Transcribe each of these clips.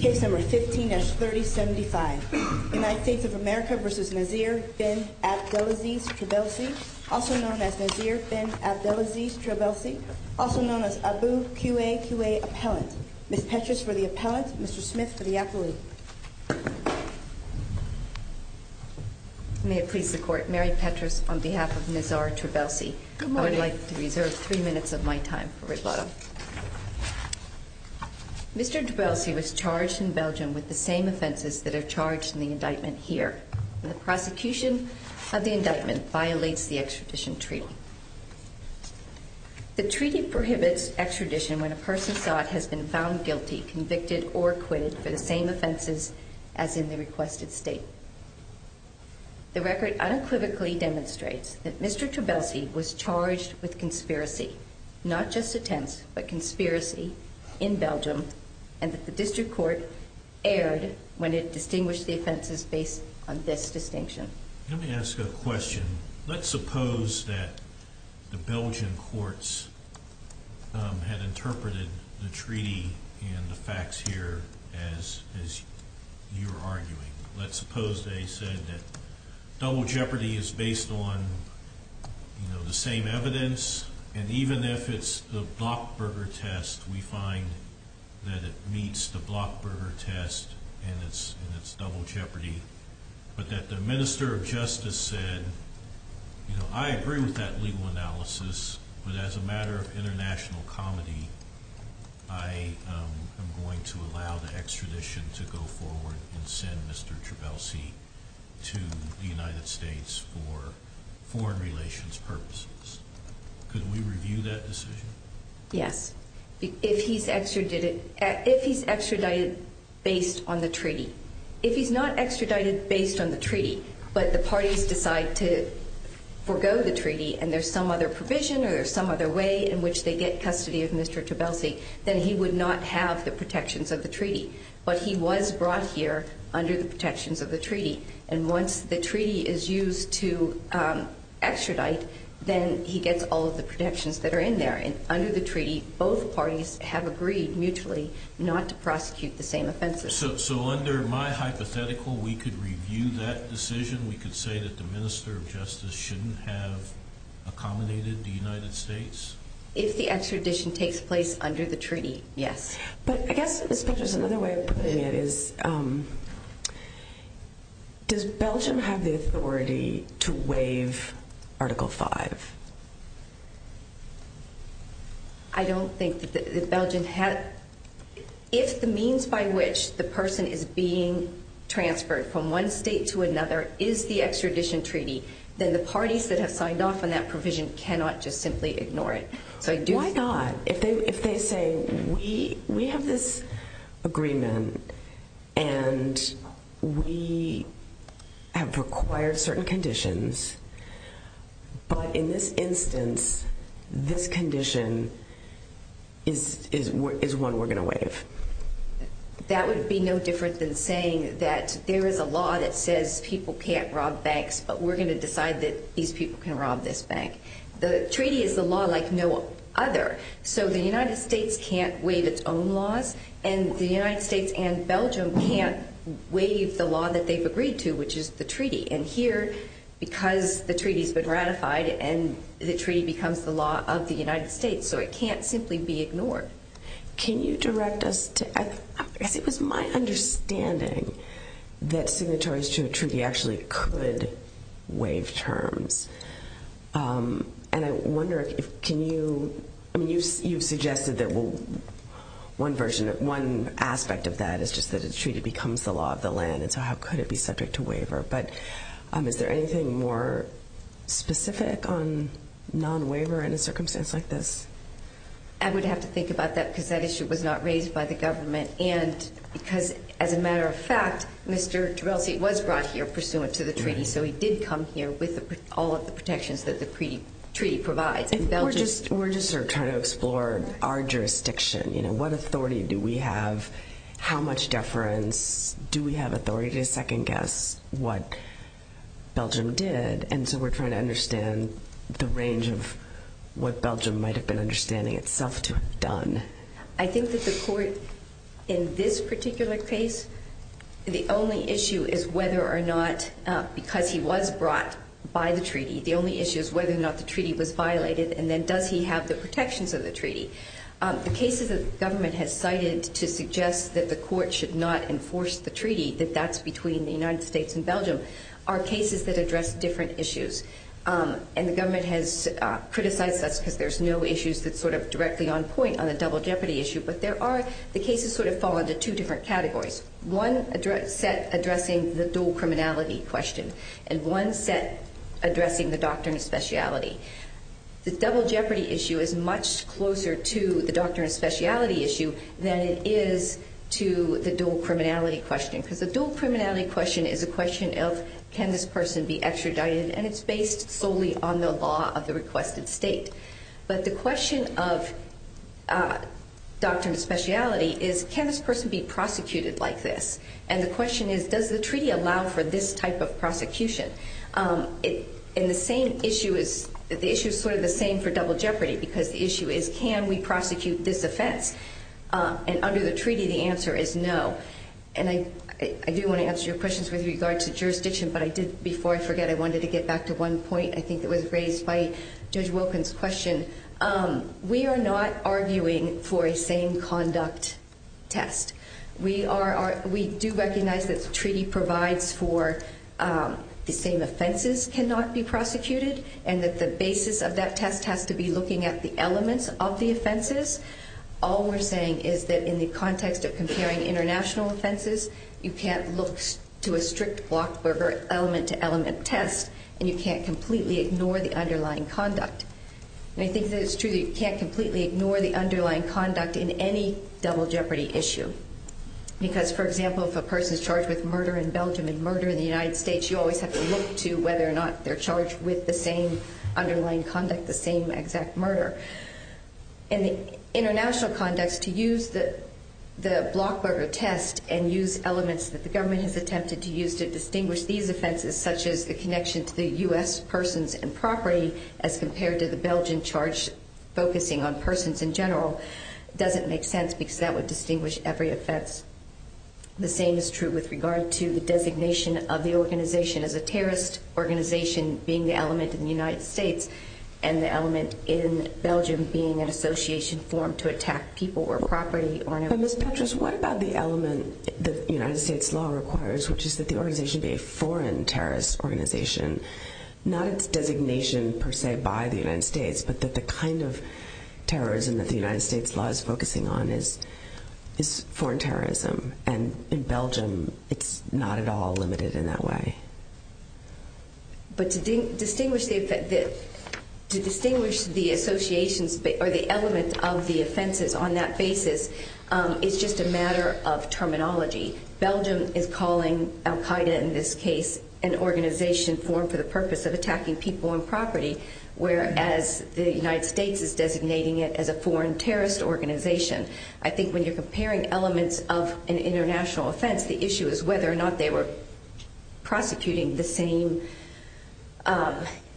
Case No. 15-3075 United States of America v. Nizar Fenn Abdelaziz Trabelsi Also known as Nizar Fenn Abdelaziz Trabelsi Also known as Abu Qa Qa Appellant Ms. Petras for the Appellant, Mr. Smith for the Appellant May I please report, Mary Petras on behalf of Nizar Trabelsi I would like to reserve 3 minutes of my time for rebuttal Mr. Trabelsi was charged in Belgium with the same offences that are charged in the indictment here The prosecution of the indictment violates the extradition treaty The treaty prohibits extradition when a person's god has been found guilty, convicted or acquitted for the same offences as in the requested state The record unequivocally demonstrates that Mr. Trabelsi was charged with conspiracy Not just attempts, but conspiracy in Belgium And that the district court erred when it distinguished the offences based on this distinction Let me ask a question Let's suppose that the Belgian courts have interpreted the treaty and the facts here as you were arguing Let's suppose they said that double jeopardy is based on the same evidence And even if it's the Blochberger test, we find that it meets the Blochberger test and it's double jeopardy But that the Minister of Justice said, you know, I agree with that legal analysis But as a matter of international comedy, I am going to allow the extradition to go forward and send Mr. Trabelsi to the United States for foreign relations purposes Could we review that decision? Yes, if he's extradited based on the treaty If he's not extradited based on the treaty, but the parties decide to forego the treaty and there's some other provision or some other way in which they get custody of Mr. Trabelsi Then he would not have the protections of the treaty But he was brought here under the protections of the treaty And once the treaty is used to extradite, then he gets all of the protections that are in there And under the treaty, both parties have agreed mutually not to prosecute the same offences So under my hypothetical, we could review that decision? We could say that the Minister of Justice shouldn't have accommodated the United States? If the extradition takes place under the treaty, yes But I guess the question is, does Belgium have the authority to waive Article 5? I don't think that Belgium has If the means by which the person is being transferred from one state to another is the extradition treaty Then the parties that have signed off on that provision cannot just simply ignore it Why not? If they say, we have this agreement and we have required certain conditions But in this instance, this condition is one we're going to waive That would be no different than saying that there is a law that says people can't rob banks But we're going to decide that these people can rob this bank The treaty is a law like no other So the United States can't waive its own laws And the United States and Belgium can't waive the law that they've agreed to, which is the treaty And here, because the treaty has been ratified And the treaty becomes the law of the United States So it can't simply be ignored Can you direct us to... It was my understanding that signatories to a treaty actually could waive terms And I wonder if... You suggested that one aspect of that is just that a treaty becomes the law of the land And so how could it be subject to waiver? But is there anything more specific on non-waiver in a circumstance like this? I would have to think about that, because that issue was not raised by the government And because, as a matter of fact, Mr. Gervais was brought here pursuant to the treaty So he did come here with all of the protections that the treaty provides We're just trying to explore our jurisdiction What authority do we have? How much deference? Do we have authority to second-guess what Belgium did? And so we're trying to understand the range of what Belgium might have been understanding itself to have done I think that the court, in this particular case The only issue is whether or not, because he was brought by the treaty The only issue is whether or not the treaty was violated And then does he have the protections of the treaty? The cases that the government has cited to suggest that the court should not enforce the treaty That that's between the United States and Belgium Are cases that address different issues And the government has criticized us Because there's no issues that are directly on point on the double jeopardy issue But the cases fall into two different categories One set addressing the dual criminality question And one set addressing the doctrine of speciality The double jeopardy issue is much closer to the doctrine of speciality issue Than it is to the dual criminality question Because the dual criminality question is a question of Can this person be extradited? And it's based solely on the law of the requested state But the question of doctrine of speciality is Can this person be prosecuted like this? And the question is, does the treaty allow for this type of prosecution? And the same issue is The issue is put in the same for double jeopardy Because the issue is, can we prosecute this offense? And under the treaty, the answer is no And I do want to answer your questions with regard to jurisdiction But I did, before I forget, I wanted to get back to one point I think it was raised by Judge Wilkins' question We are not arguing for a same conduct test We do recognize that the treaty provides for The same offenses cannot be prosecuted And that the basis of that test has to be looking at the elements of the offenses All we're saying is that in the context of comparing international offenses You can't look to a strict Blockberger element-to-element test And you can't completely ignore the underlying conduct And I think that it's true that you can't completely ignore the underlying conduct In any double jeopardy issue Because, for example, if a person is charged with murder in Belgium And murder in the United States You always have to look to whether or not they're charged with the same underlying conduct The same exact murder In international conduct, to use the Blockberger test And use elements that the government has attempted to use to distinguish these offenses Such as the connection to the U.S. persons and property As compared to the Belgian charge focusing on persons in general Doesn't make sense because that would distinguish every offense The same is true with regard to the designation of the organization As a terrorist organization being the element in the United States And the element in Belgium being an association formed to attack people or property But Ms. Petras, what about the element that the United States law requires Which is that the organization be a foreign terrorist organization Not its designation per se by the United States But that the kind of terrorism that the United States law is focusing on Is foreign terrorism And in Belgium it's not at all limited in that way But to distinguish the associations or the elements of the offenses on that basis Is just a matter of terminology Belgium is calling Al-Qaeda in this case An organization formed for the purpose of attacking people and property Whereas the United States is designating it as a foreign terrorist organization I think when you're comparing elements of an international offense The issue is whether or not they were prosecuting the same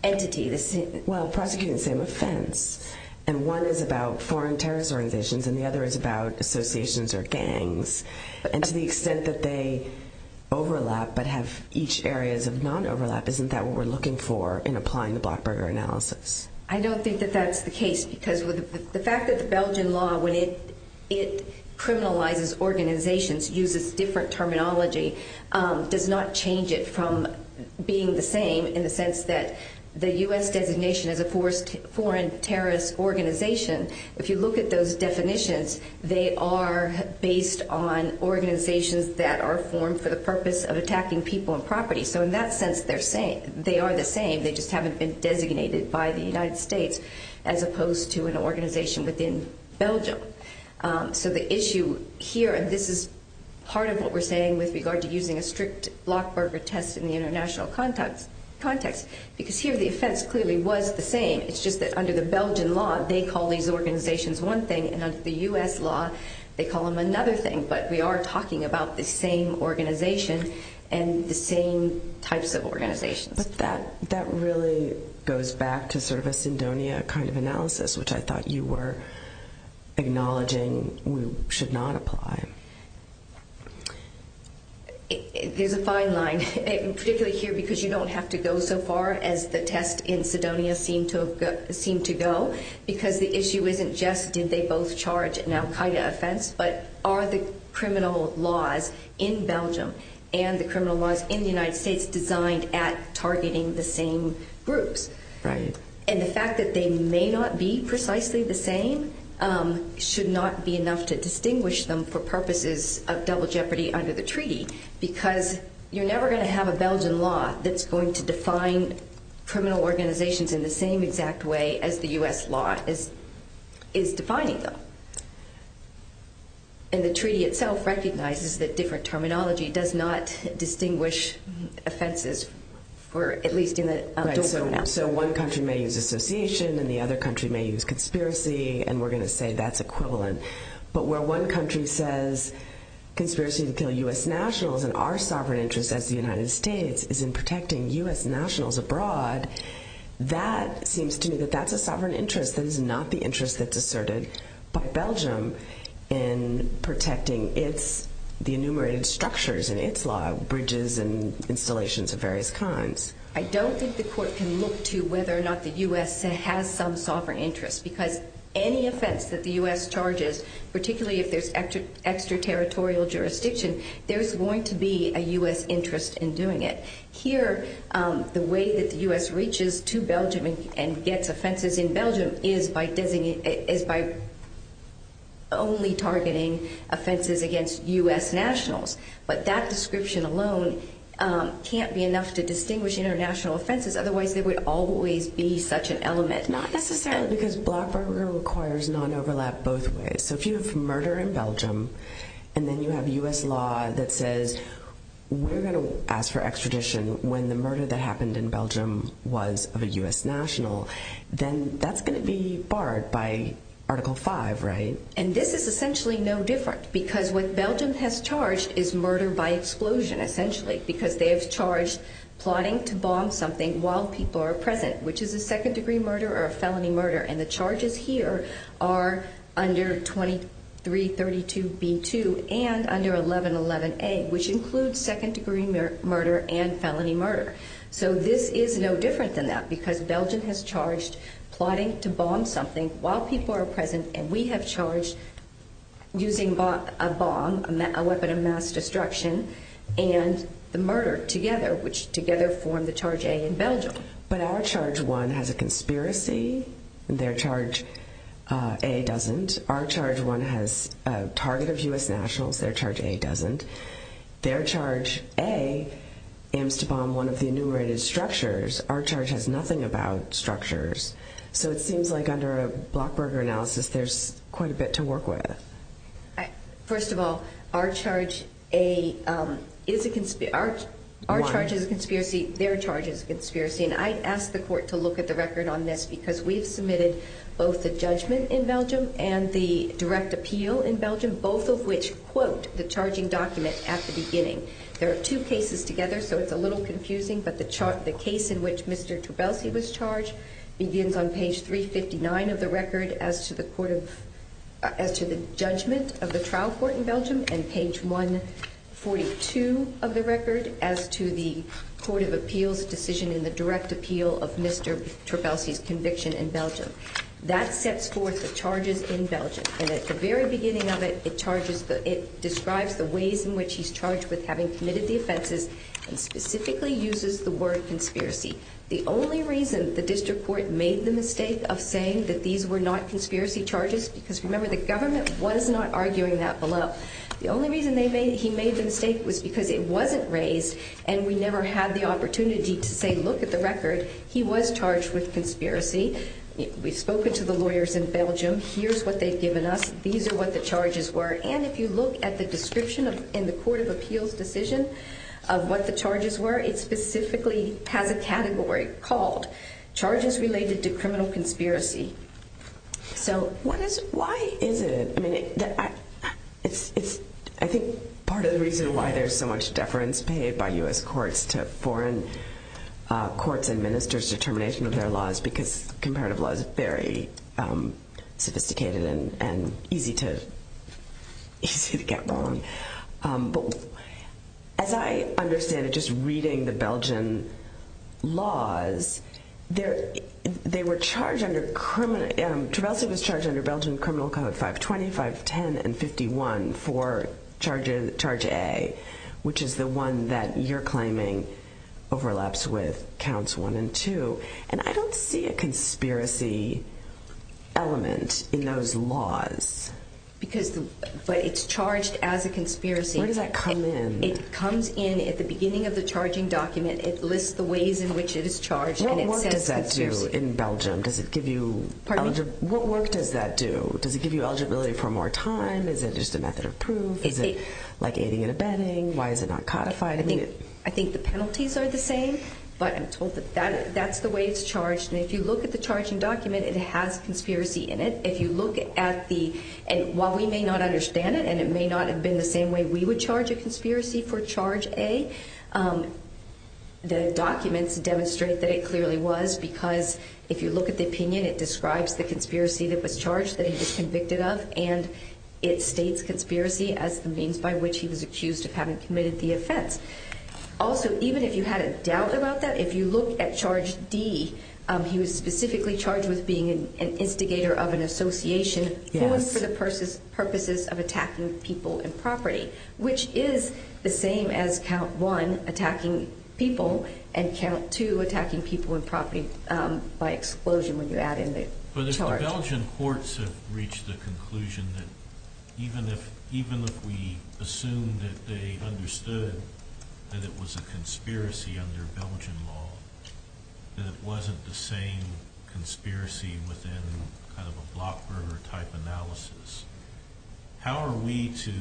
entity Well, prosecuting the same offense And one is about foreign terrorist organizations And the other is about associations or gangs And to the extent that they overlap but have each areas of non-overlap Isn't that what we're looking for in applying the Blackburger analysis? I don't think that that's the case Because the fact that the Belgian law when it criminalizes organizations Uses different terminology Does not change it from being the same In the sense that the U.S. designation as a foreign terrorist organization If you look at those definitions They are based on organizations that are formed for the purpose of attacking people and property So in that sense they are the same They just haven't been designated by the United States As opposed to an organization within Belgium So the issue here, and this is part of what we're saying With regard to using a strict Blackburger test in the international context Because here the offense clearly was the same It's just that under the Belgian law They call these organizations one thing And under the U.S. law they call them another thing But we are talking about the same organization And the same types of organizations But that really goes back to sort of a Cydonia kind of analysis Which I thought you were acknowledging should not apply There's a fine line Particularly here because you don't have to go so far as the test in Cydonia seemed to go Because the issue isn't just did they both charge an Al-Qaeda offense But are the criminal laws in Belgium and the criminal laws in the United States Designed at targeting the same groups And the fact that they may not be precisely the same Should not be enough to distinguish them for purposes of double jeopardy under the treaty Because you're never going to have a Belgian law That's going to define criminal organizations in the same exact way as the U.S. law is defining them And the treaty itself recognizes that different terminology does not distinguish offenses For at least in a So one country may use association and the other country may use conspiracy And we're going to say that's equivalent But where one country says conspiracy to kill U.S. nationals And our sovereign interest as the United States is in protecting U.S. nationals abroad That seems to me that that's a sovereign interest And this is not the interest that's asserted by Belgium In protecting the enumerated structures in its law Bridges and installations of various kinds I don't think the court can look to whether or not the U.S. has some sovereign interest Because any offense that the U.S. charges Particularly if there's extraterritorial jurisdiction There's going to be a U.S. interest in doing it Here, the way that the U.S. reaches to Belgium and gets offenses in Belgium Is by only targeting offenses against U.S. nationals But that description alone can't be enough to distinguish international offenses Otherwise there would always be such an element Not necessarily Because block burglary requires non-overlap both ways So if you have murder in Belgium And then you have U.S. law that says We're going to ask for extradition when the murder that happened in Belgium Was of a U.S. national Then that's going to be barred by Article 5, right? And this is essentially no different Because what Belgium has charged is murder by explosion, essentially Because they have charged plotting to bomb something while people are present Which is a second degree murder or a felony murder And the charges here are under 2332b2 and under 1111a Which includes second degree murder and felony murder So this is no different than that Because Belgium has charged plotting to bomb something while people are present And we have charged using a bomb, a weapon of mass destruction And the murder together, which together form the Charge A in Belgium But our Charge 1 has a conspiracy Their Charge A doesn't Our Charge 1 has a target of U.S. nationals Their Charge A doesn't Their Charge A aims to bomb one of the enumerated structures Our Charge has nothing about structures So it seems like under a Blockburger analysis There's quite a bit to work with First of all, our Charge A is a conspiracy Our Charge is a conspiracy Their Charge is a conspiracy And I asked the court to look at the record on this Because we submitted both the judgment in Belgium And the direct appeal in Belgium Both of which quote the charging document at the beginning There are two cases together, so it's a little confusing But the case in which Mr. Trabelsi was charged Begins on page 359 of the record As to the judgment of the trial court in Belgium And page 142 of the record As to the court of appeals decision And the direct appeal of Mr. Trabelsi's conviction in Belgium That sets forth the charges in Belgium And at the very beginning of it, it charges It describes the ways in which he's charged with having committed the offenses And specifically uses the word conspiracy The only reason the district court made the mistake of saying That these were not conspiracy charges Because remember the government was not arguing that below The only reason he made the mistake was because it wasn't raised And we never had the opportunity to say look at the record He was charged with conspiracy We've spoken to the lawyers in Belgium Here's what they've given us These are what the charges were And if you look at the description in the court of appeals decision Of what the charges were It specifically has a category called Charges related to criminal conspiracy So why is it? I think part of the reason why there's so much deference Paid by US courts to foreign courts and ministers Determination of their laws Because comparative law is very sophisticated And easy to get wrong But as I understand it Just reading the Belgian laws They were charged under criminal Travelsa was charged under Belgian criminal code 525, 10 and 51 For charge A Which is the one that you're claiming overlaps with counts 1 and 2 And I don't see a conspiracy element in those laws But it's charged as a conspiracy Where does that come in? It comes in at the beginning of the charging document It lists the ways in which it is charged What work does that do in Belgium? What work does that do? Does it give you eligibility for more time? Is it just a method of proof? Is it like aiding and abetting? Why is it not codified? I think the penalties are the same But that's the way it's charged And if you look at the charging document It has conspiracy in it If you look at the And while we may not understand it And it may not have been the same way we would charge a conspiracy for charge A The documents demonstrate that it clearly was Because if you look at the opinion It describes the conspiracy that was charged That he was convicted of And it states conspiracy as the means by which he was accused of having committed the offense Also, even if you had a doubt about that If you looked at charge D He was specifically charged with being an instigator of an association Who was for the purposes of attacking people and property Which is the same as count 1, attacking people And count 2, attacking people and property By explosion when you add in the charge But the Belgian courts have reached the conclusion That even if we assume that they understood That it was a conspiracy under Belgian law That it wasn't the same conspiracy within a block murder type analysis How are we to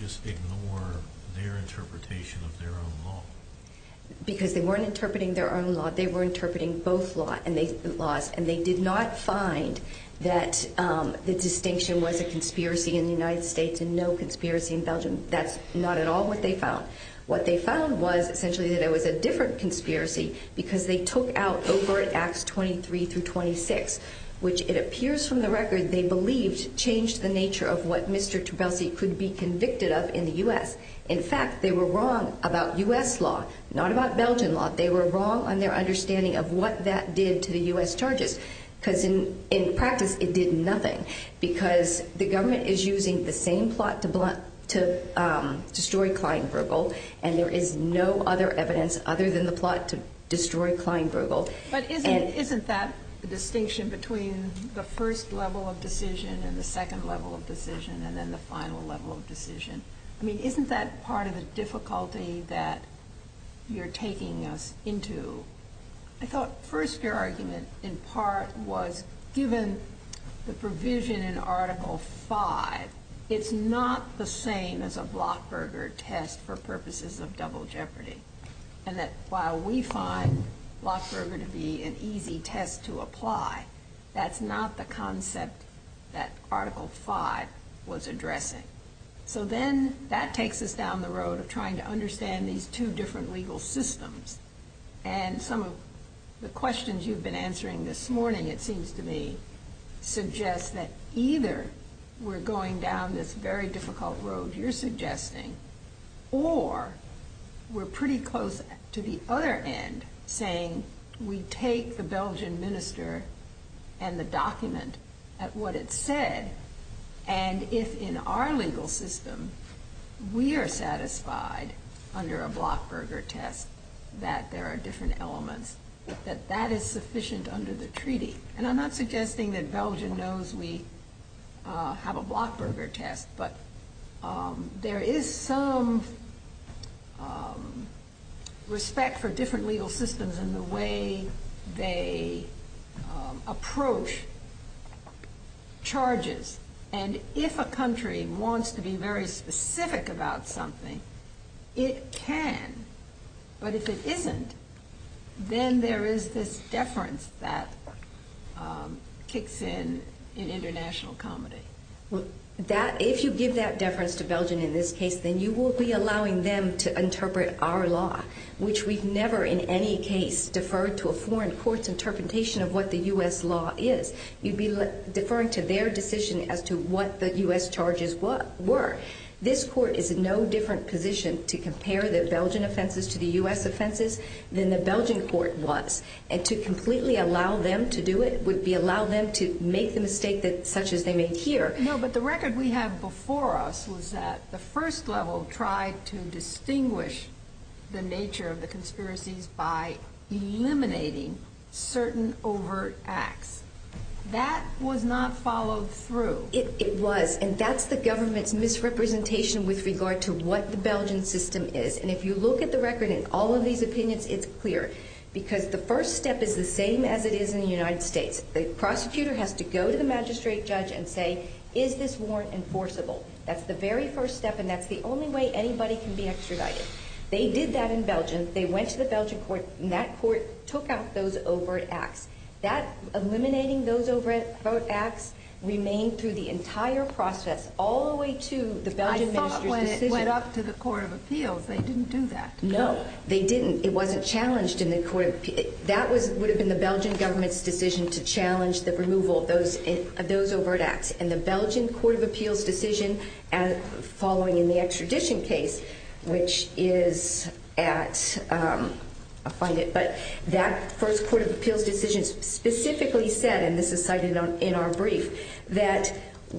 just ignore their interpretation of their own law? Because they weren't interpreting their own law They were interpreting both laws And they did not find that the distinction was a conspiracy in the United States And no conspiracy in Belgium That's not at all what they found What they found was essentially that it was a different conspiracy Because they took out over at Acts 23 through 26 Which it appears from the record they believed Changed the nature of what Mr. Trabelsi could be convicted of in the U.S. In fact, they were wrong about U.S. law Not about Belgian law They were wrong on their understanding of what that did to the U.S. charges Because in practice it did nothing Because the government is using the same plot to destroy Klein-Grugel And there is no other evidence other than the plot to destroy Klein-Grugel But isn't that the distinction between the first level of decision And the second level of decision And then the final level of decision I mean, isn't that part of the difficulty that you're taking us into I thought the first argument in part was Given the provision in Article 5 It's not the same as a Blochberger test for purposes of double jeopardy And that while we find Blochberger to be an easy test to apply That's not the concept that Article 5 was addressing So then that takes us down the road of trying to understand these two different legal systems And some of the questions you've been answering this morning It seems to me suggests that either we're going down this very difficult road you're suggesting Or we're pretty close to the other end Saying we take the Belgian minister and the document at what it said And if in our legal system we are satisfied under a Blochberger test That there are different elements That that is sufficient under the treaty And I'm not suggesting that Belgium knows we have a Blochberger test But there is some respect for different legal systems And the way they approach charges And if a country wants to be very specific about something It can But if it isn't Then there is this deference that kicks in in international comedy If you give that deference to Belgium in this case Then you will be allowing them to interpret our law Which we've never in any case Deferred to a foreign court's interpretation of what the U.S. law is You'd be deferring to their decision as to what the U.S. charges were This court is in no different position to compare the Belgian offenses to the U.S. offenses Than the Belgian court was And to completely allow them to do it Would be allow them to make the mistake such as they make here No, but the record we have before us Was that the first level tried to distinguish the nature of the conspiracy By eliminating certain overt acts That would not follow through It was And that's the government's misrepresentation with regard to what the Belgian system is And if you look at the record in all of these opinions It's clear Because the first step is the same as it is in the United States The prosecutor has to go to the magistrate judge and say Is this warrant enforceable? That's the very first step And that's the only way anybody can be extradited They did that in Belgium They went to the Belgian court And that court took out those overt acts Eliminating those overt acts Remained through the entire process All the way to the Belgian Ministry of Justice I thought when it went up to the Court of Appeals They didn't do that No, they didn't It wasn't challenged in the Court of Appeals That would have been the Belgian government's decision To challenge the removal of those overt acts And the Belgian Court of Appeals' decision Following in the extradition case Which is at I'll find it But that first Court of Appeals' decision Specifically said And this is cited in our brief That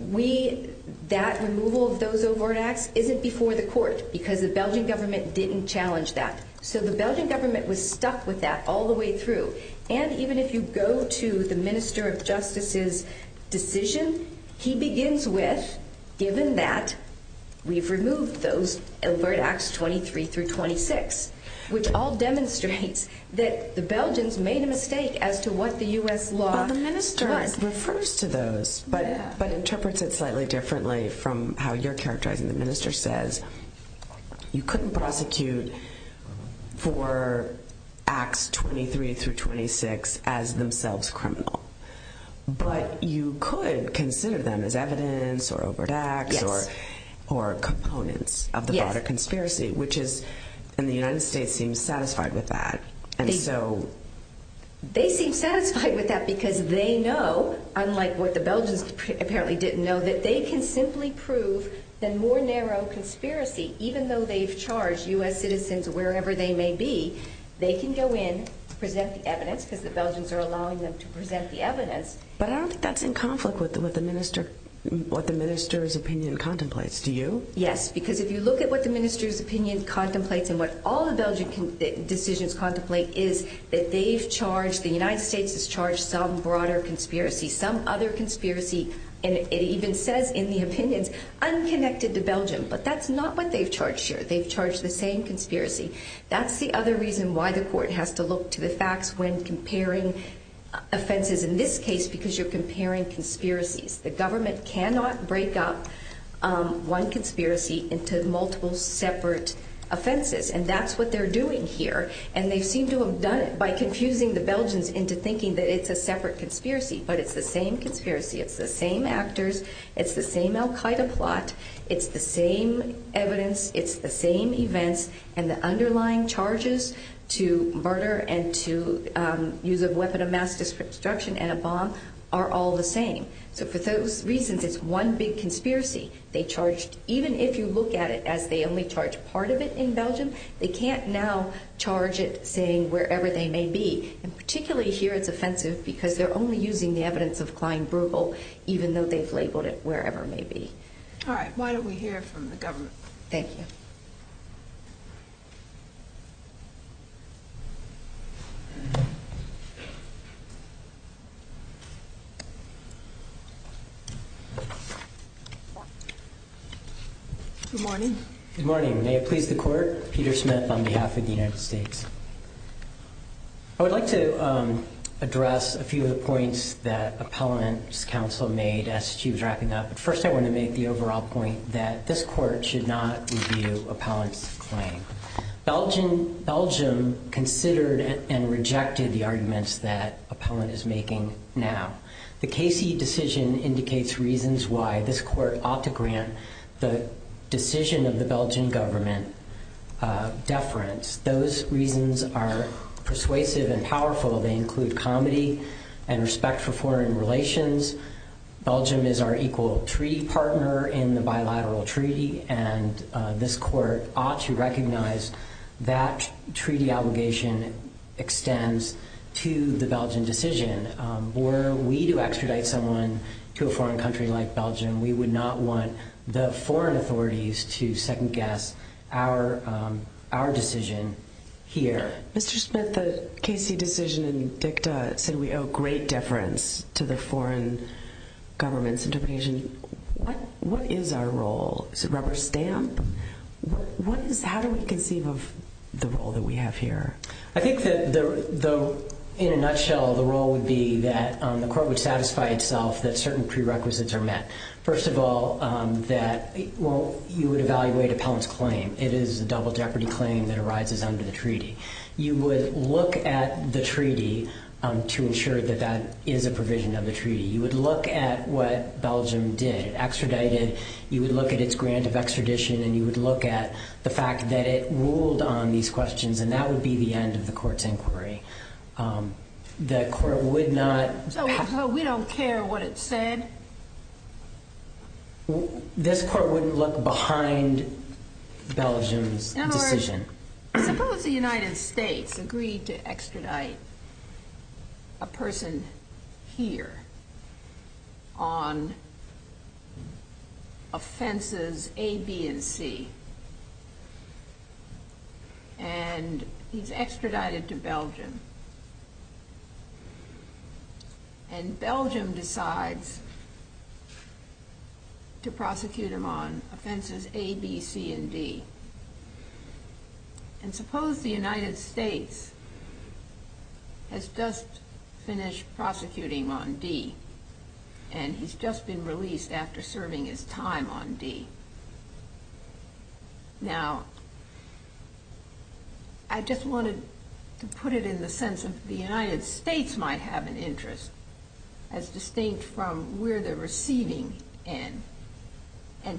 we That removal of those overt acts Isn't before the courts Because the Belgian government didn't challenge that So the Belgian government was stuck with that all the way through And even if you go to the Minister of Justice's decision He begins with Given that We've removed those overt acts 23 through 26 Which all demonstrates That the Belgians made a mistake As to what the US law Refers to those But interprets it slightly differently From how you're characterizing it The Minister says You couldn't prosecute For acts 23 through 26 As themselves criminal But you could consider them as evidence Or overt acts Or components of the broader conspiracy Which is And the United States seems satisfied with that And so They seem satisfied with that Because they know Unlike what the Belgians apparently didn't know That they can simply prove The more narrow conspiracy Even though they've charged US citizens Wherever they may be They can go in Present the evidence Because the Belgians are allowing them to present the evidence But I don't think that's in conflict With what the Minister's opinion contemplates Do you? Yes Because if you look at what the Minister's opinion contemplates And what all the Belgian decisions contemplate Is that they've charged The United States has charged some broader conspiracy Some other conspiracy And it even says in the opinion Unconnected to Belgium But that's not what they've charged here They've charged the same conspiracy That's the other reason why the court has to look To the facts when comparing Offenses in this case Because you're comparing conspiracies The government cannot break up One conspiracy Into multiple separate offenses And that's what they're doing here And they seem to have done it By confusing the Belgians into thinking That it's a separate conspiracy But it's the same conspiracy It's the same actors It's the same Al Qaeda plot It's the same evidence It's the same events And the underlying charges To murder and to use A weapon of mass destruction And a bomb are all the same So for those reasons it's one big conspiracy They charge Even if you look at it as they only charge Part of it in Belgium They can't now charge it saying Wherever they may be And particularly here it's offensive Because they're only using the evidence of Klein Bruegel Even though they've labeled it wherever it may be Alright, why don't we hear from the government Thank you Good morning Good morning, may it please the court Peter Smith on behalf of the United States I would like to Address a few of the points That appellant counsel made First I want to make the overall point That this court should not Review appellant's claim Belgium Considered and rejected The arguments that appellant is making Now The Casey decision indicates reasons why This court ought to grant The decision of the Belgian government Deference Those reasons are Persuasive and powerful They include comedy And respect for foreign relations Belgium is our equal Treaty partner in the bilateral Treaty and this court Ought to recognize That treaty obligation Extends to The Belgian decision Where we do extradite someone To a foreign country like Belgium We would not want the foreign authorities To second guess Our decision Here Mr. Smith The Casey decision Said we owe great deference To the foreign government What is our role Is it rubber stamp How do we conceive of The role that we have here I think that In a nutshell the role would be That the court would satisfy itself That certain prerequisites are met First of all You would evaluate appellant's claim It is a double jeopardy claim That arises under the treaty You would look at the treaty To ensure that that is a provision Of the treaty You would look at what Belgium did Extradited You would look at the fact That it ruled on these questions And that would be the end of the court's inquiry The court would not We don't care What it said This court The court would look behind Belgium's decision Suppose the United States Agreed to extradite A person Here On Offenses A, B, and C And He is extradited to Belgium And Belgium Decides To prosecute him on Offenses A, B, C, and D And suppose the United States Has just Finished prosecuting On D And he's just been released After serving his time on D Now I just wanted To put it in the sense That the United States Might have an interest As distinct from Where they're receiving And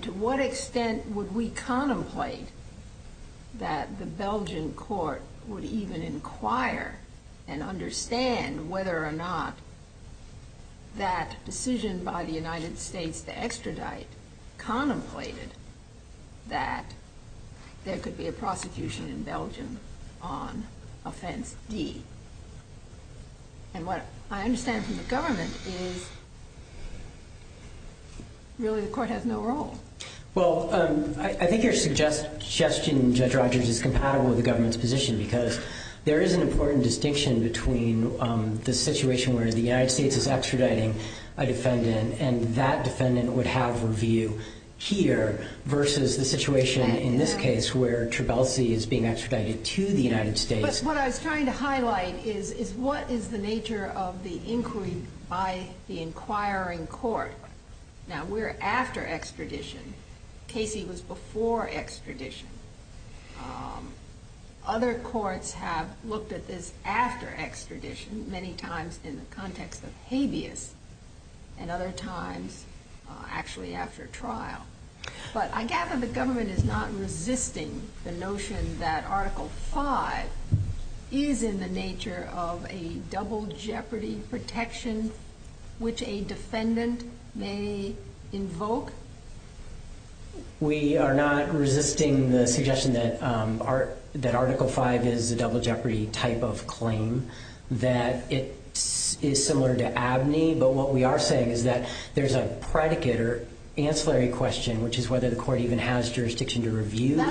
to what extent Would we contemplate That the Belgian Court would even inquire And understand Whether or not That decision by the United States to extradite Contemplated that There could be a prosecution In Belgium on Offense D And what I understand From the government Is really The court has no role Well I think your Suggestion Judge Rogers Is compatible with the government's position Because there is an important distinction Between the situation where the United States Is extraditing a defendant And that defendant would have A view here Versus the situation in this case Where Trabelsi is being extradited To the United States But what I was trying to highlight Is what is the nature of the Inquiry by the inquiring Court Now we're after extradition Casey was before extradition Other courts have Looked at this after extradition Many times in the context of habeas And other times Actually after trial But I gather the government Is not resisting the notion That article 5 Is in the nature of A double jeopardy protection Which a defendant May invoke We are not resisting the suggestion That article 5 Is a double jeopardy type of claim That it Is similar to abney But what we are saying is that There's a predicate or ancillary question Which is whether the court even has jurisdiction To review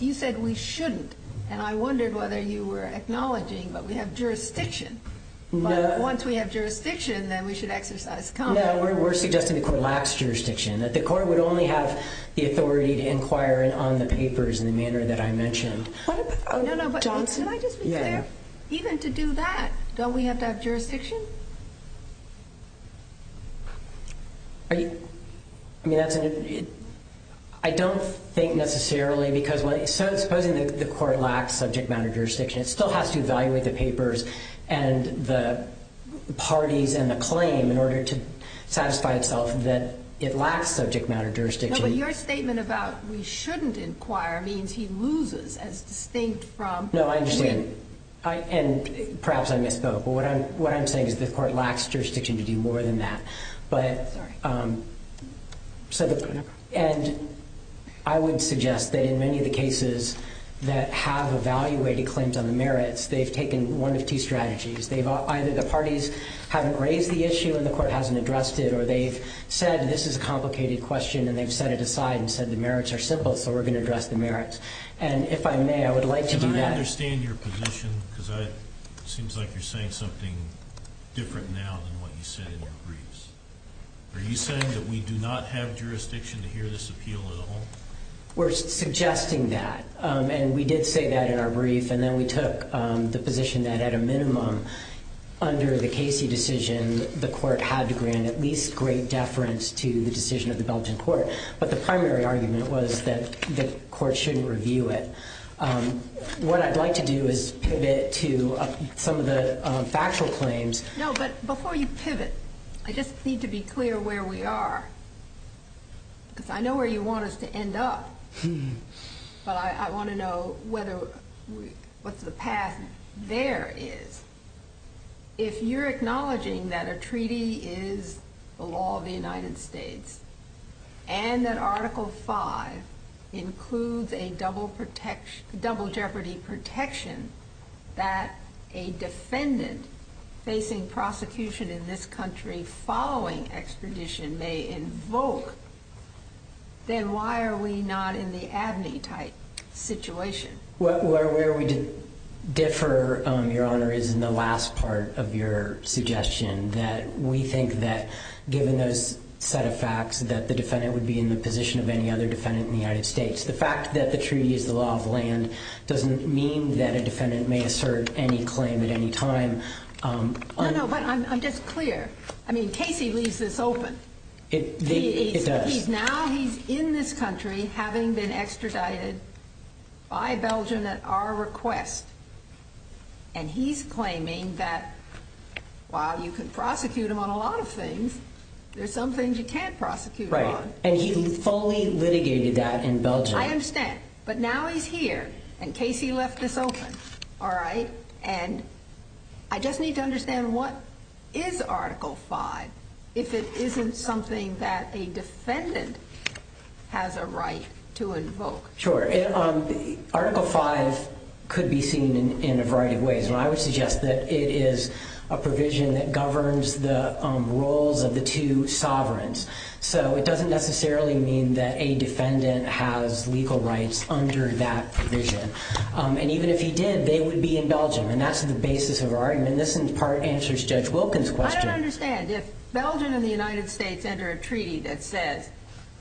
You said we shouldn't And I wondered whether you were acknowledging But we have jurisdiction But once we have jurisdiction Then we should exercise We're suggesting the court lacks jurisdiction That the court would only have the authority To inquire on the papers In the manner that I mentioned Even to do that Don't we have to have jurisdiction Are you Are you I mean that's I don't think necessarily Because when Supposing the court lacks subject matter jurisdiction It still has to evaluate the papers And the parties And the claim in order to Satisfy itself that it lacks subject matter jurisdiction But your statement about We shouldn't inquire Means he loses As distinct from I And perhaps I missed But what I'm saying is the court lacks jurisdiction To do more than that But And I would suggest that in many of the cases That have evaluated Claims on the merits They've taken one of two strategies Either the parties haven't raised the issue And the court hasn't addressed it Or they've said this is a complicated question And they've set it aside And said the merits are simple So we're going to address the merits And if I may I would like to do that I understand your position Because it seems like you're saying something Different now than what you said in your briefs Are you saying that we do not have jurisdiction To hear this appeal at all We're suggesting that And we did say that in our brief And then we took the position that At a minimum Under the Casey decision The court had to grant at least great deference To the decision of the Belgian court But the primary argument was that The court shouldn't review it What I'd like to do is Pivot to some of the Factual claims No but before you pivot I just need to be clear where we are Because I know where you want us to end up What's the path there is If you're acknowledging that a treaty Is the law of the United States And that article 5 Includes a double jeopardy protection That a defendant Facing prosecution in this country Following expedition May invoke Then why are we not in the Abney type situation Where we did differ Your honor is in the last part Of your suggestion That we think that Given those set of facts That the defendant would be in the position of any other defendant In the United States The fact that the treaty is the law of the land Doesn't mean that a defendant may assert Any claim at any time No no but I'm just clear I mean Casey leaves this open It does He's now in this country Having been extradited By Belgium at our request And he's claiming That while you can prosecute him On a lot of things There's some things you can't prosecute him on And he fully litigated that In Belgium I understand but now he's here And Casey left this open And I just need to understand What is article 5 If it isn't something That a defendant Has a right to invoke Sure Article 5 could be seen In a variety of ways I would suggest that it is a provision That governs the roles Of the two sovereigns So it doesn't necessarily mean That a defendant has legal rights Under that provision And even if he did They would be in Belgium And that's the basis of our argument And this in part answers Judge Wilkins question I don't understand If Belgium and the United States Enter a treaty that says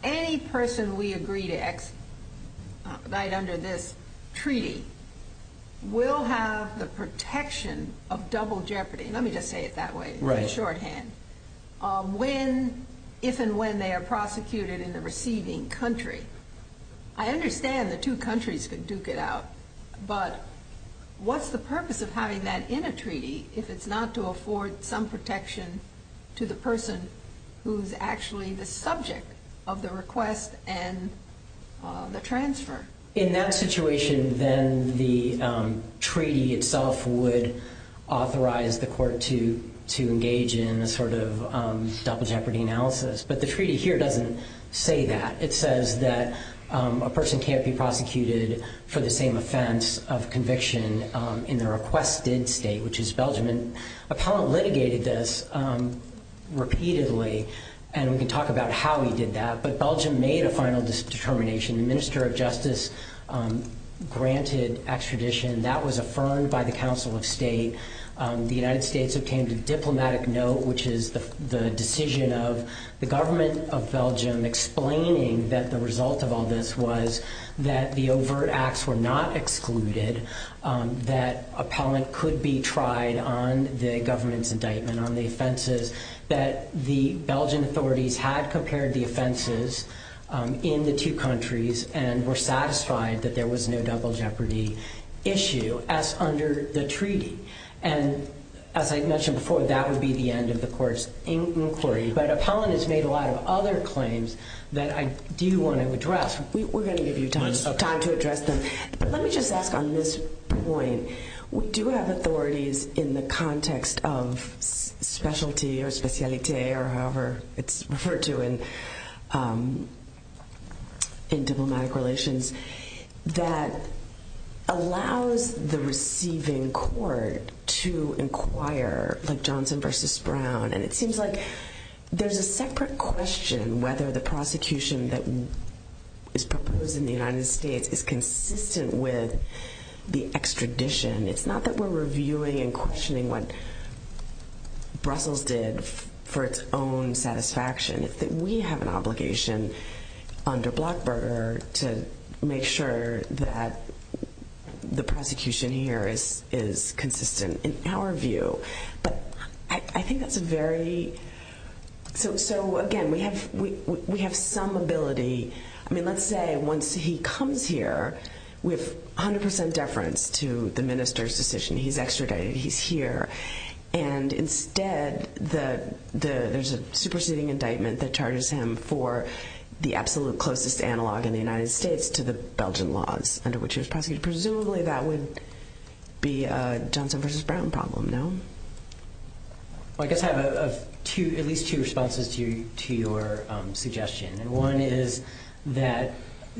Any person we agree to Act Right under this treaty Will have the protection Of double jeopardy Let me just say it that way On when If and when they are prosecuted In the receiving country I understand the two countries Could duke it out But what's the purpose of having that in a treaty If it's not to afford Some protection to the person Who's actually the subject Of the request And the transfer In that situation Then the treaty itself Would authorize the court To engage in A sort of double jeopardy analysis But the treaty here doesn't say that It says that A person can't be prosecuted For the same offense of conviction In the requested state Which is Belgium Appellant litigated this Repeatedly And we can talk about how he did that But Belgium made a final determination The minister of justice Granted extradition That was affirmed by the council of state The United States Obtained a diplomatic note Which is the decision of the government Of Belgium explaining That the result of all this was That the overt acts were not excluded That Appellant could be tried on The government's indictment on the offenses That the Belgian authorities Had prepared the offenses In the two countries And were satisfied that there was No double jeopardy issue As under the treaty And as I mentioned before That would be the end of the court's inquiry But appellant has made a lot of other Claims that I do want To address We're going to give you time to address them But let me just ask on this point Do we have authorities In the context of Specialty or specialité Or however it's referred to In diplomatic relations That Allows the receiving Court to inquire Like Johnson versus Brown And it seems like There's a separate question Whether the prosecution That is proposed In the United States is consistent With the extradition It's not that we're reviewing and questioning What Brussels did for its own Satisfaction It's that we have an obligation Under Blackburger to make sure That The prosecution here is Consistent in our view But I think that's a very So again We have some ability I mean let's say Once he comes here With 100% deference to the minister's Decision he's extradited He's here And instead There's a superseding indictment that charges him For the absolute closest Analogue in the United States to the Belgian Laws under which he was prosecuted Presumably that would be A Johnson versus Brown problem No? I guess I have At least two responses to your Suggestion and one is That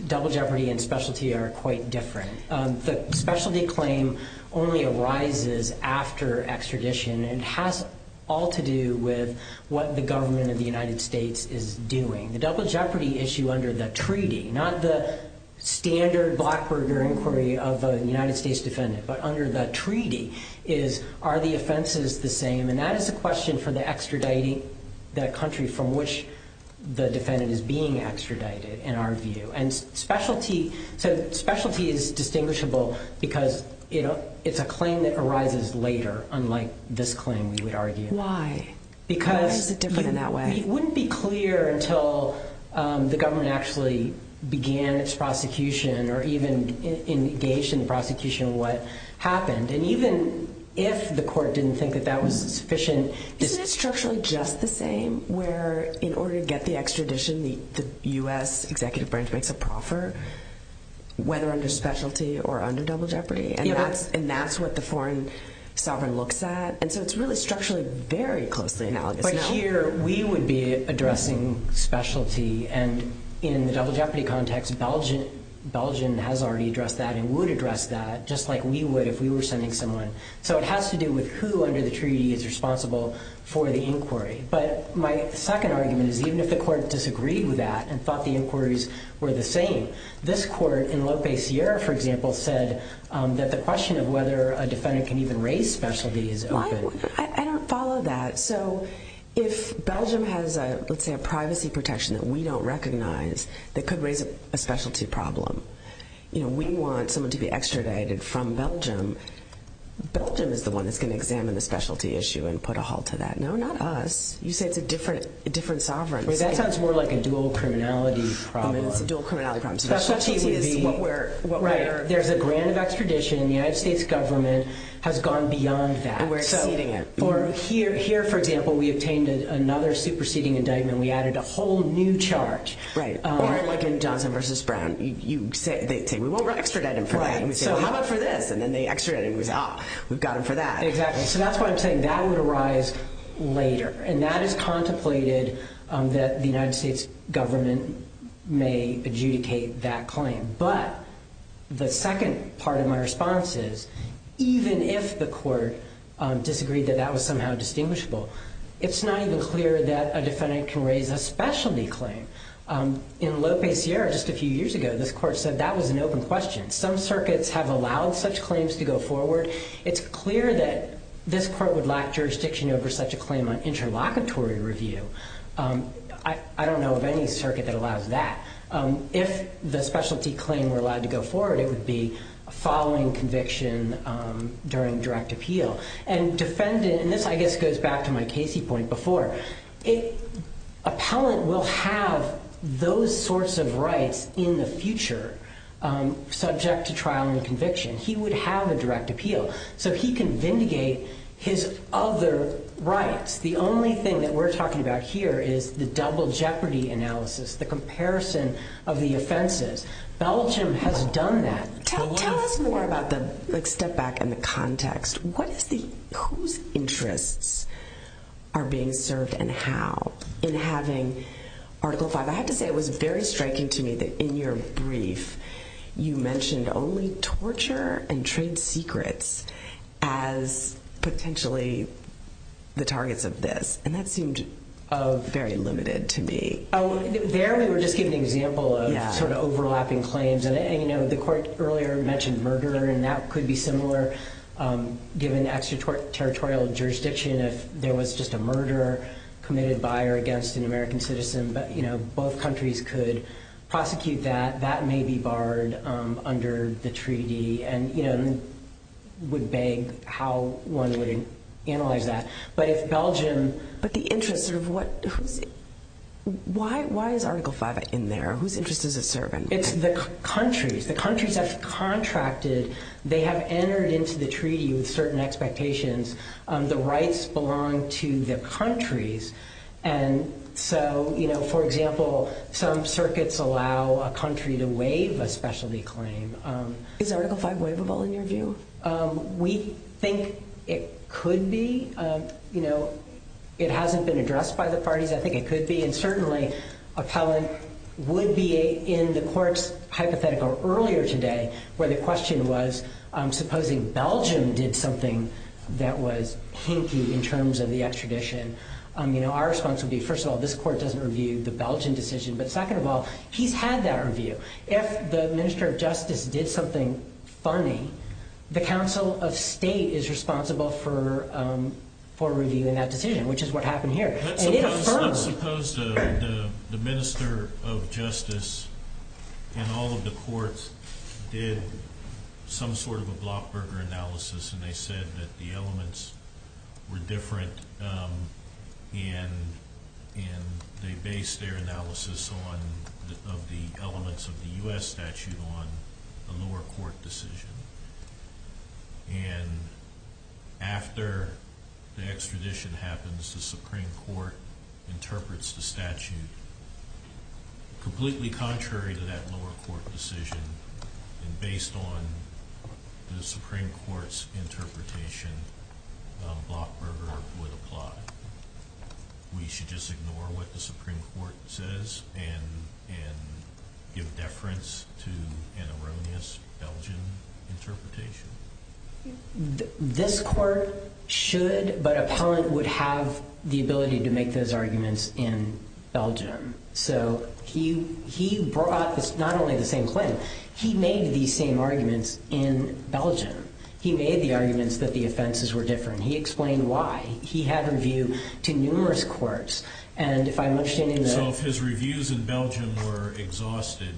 double jeopardy And specialty are quite different The specialty claim Only arises after Extradition and has all To do with what the government Of the United States is doing The double jeopardy issue under the treaty Not the standard Blackburger inquiry of a United States Defendant but under the treaty Is are the offenses the same And that is a question for the extraditing That country from which The defendant is being extradited In our view and specialty So specialty is Distinguishable because It's a claim that arises later Unlike this claim we would argue Why? It wouldn't be clear until The government actually Began its prosecution Or even engaged in prosecution Of what happened and even If the court didn't think that Was sufficient Isn't it structurally just the same Where in order to get the extradition The U.S. executive branch makes a proffer Whether under specialty Or under double jeopardy And that's what the foreign sovereign Looks at and so it's really structurally Very closely analogous Here we would be addressing specialty And in the double jeopardy context Belgium has already Addressed that and would address that Just like we would if we were sending someone So it has to do with who under the treaty Is responsible for the inquiry But my second argument is Even if the court disagreed with that And thought the inquiries were the same This court in Lopez Sierra for example Said that the question of whether A defendant can even raise specialty I don't follow that So if Belgium has Let's say a privacy protection That we don't recognize That could raise a specialty problem You know we want someone to be Extradited from Belgium Belgium is the one that's going to examine The specialty issue and put a halt to that No not us, you said it's a different Sovereign That sounds more like a dual criminality problem There's a grant of extradition And the United States government Has gone beyond that Here for example we obtained Another superseding indictment And we added a whole new charge Johnson versus Brown You say we won't extradite him How about for this And then they extradited him We've got him for that So that's why I'm saying that would arise later And that is contemplated That the United States government May adjudicate that claim But the second part Of my response is Even if the court Disagreed that that was somehow distinguishable It's not even clear that A defendant can raise a specialty claim In Lope Sierra Just a few years ago this court said that was an open question Some circuits have allowed such claims To go forward It's clear that this court would lack Jurisdiction over such a claim on interlocutory Review I don't know of any circuit that allows that If the specialty claim Were allowed to go forward It would be following conviction During direct appeal And defendant And this I guess goes back to my Casey point before Appellant will have Those sorts of rights In the future Subject to trial and conviction He would have a direct appeal So he can vindicate His other rights The only thing that we're talking about here Is the double jeopardy analysis The comparison of the offenses Belgium has done that Tell us more about that Let's step back in the context Whose interests Are being served And how In having article 5 I have to say it was very striking to me that in your brief You mentioned only Torture and trade secrets As potentially The targets of this And that seemed Very limited to me We're just giving an example Of overlapping claims The court earlier mentioned Murderer and that could be similar Given extraterritorial Jurisdiction if there was just a Murderer committed by or against An American citizen Both countries could prosecute that That may be barred Under the treaty And would beg How one would analyze that But if Belgium But the interest of what Why is article 5 in there Whose interests The countries Have contracted They have entered into the treaty With certain expectations The rights belong to the countries And so For example Some circuits allow a country to waive A specialty claim Is article 5 waivable in your view We think it could be You know It hasn't been addressed by the parties And certainly Appellant would be In the court's hypothetical earlier today Where the question was Supposing Belgium did something That was In terms of the extradition Our response would be First of all this court doesn't review the Belgium decision But second of all he's had that review If the minister of justice did something Funny The council of state is responsible For reviewing that decision Which is what happened here Suppose the minister Of justice In all of the courts Did some sort of Analysis and they said That the elements were different And They based Their analysis on Of the elements of the U.S. statute On the lower court decision And After The extradition happens The supreme court Interprets the statute Completely contrary To that lower court decision And based on The supreme court's interpretation Of Blockberger For the plot We should just ignore what the supreme court Says and Give deference to An erroneous Belgian Interpretation This court Should but Appellant would have the ability to make Those arguments in Belgium So he Brought not only the same claim He made the same arguments In Belgium He made the arguments but the offenses were different He explained why He had a view to numerous courts So if his reviews in Belgium Were exhausted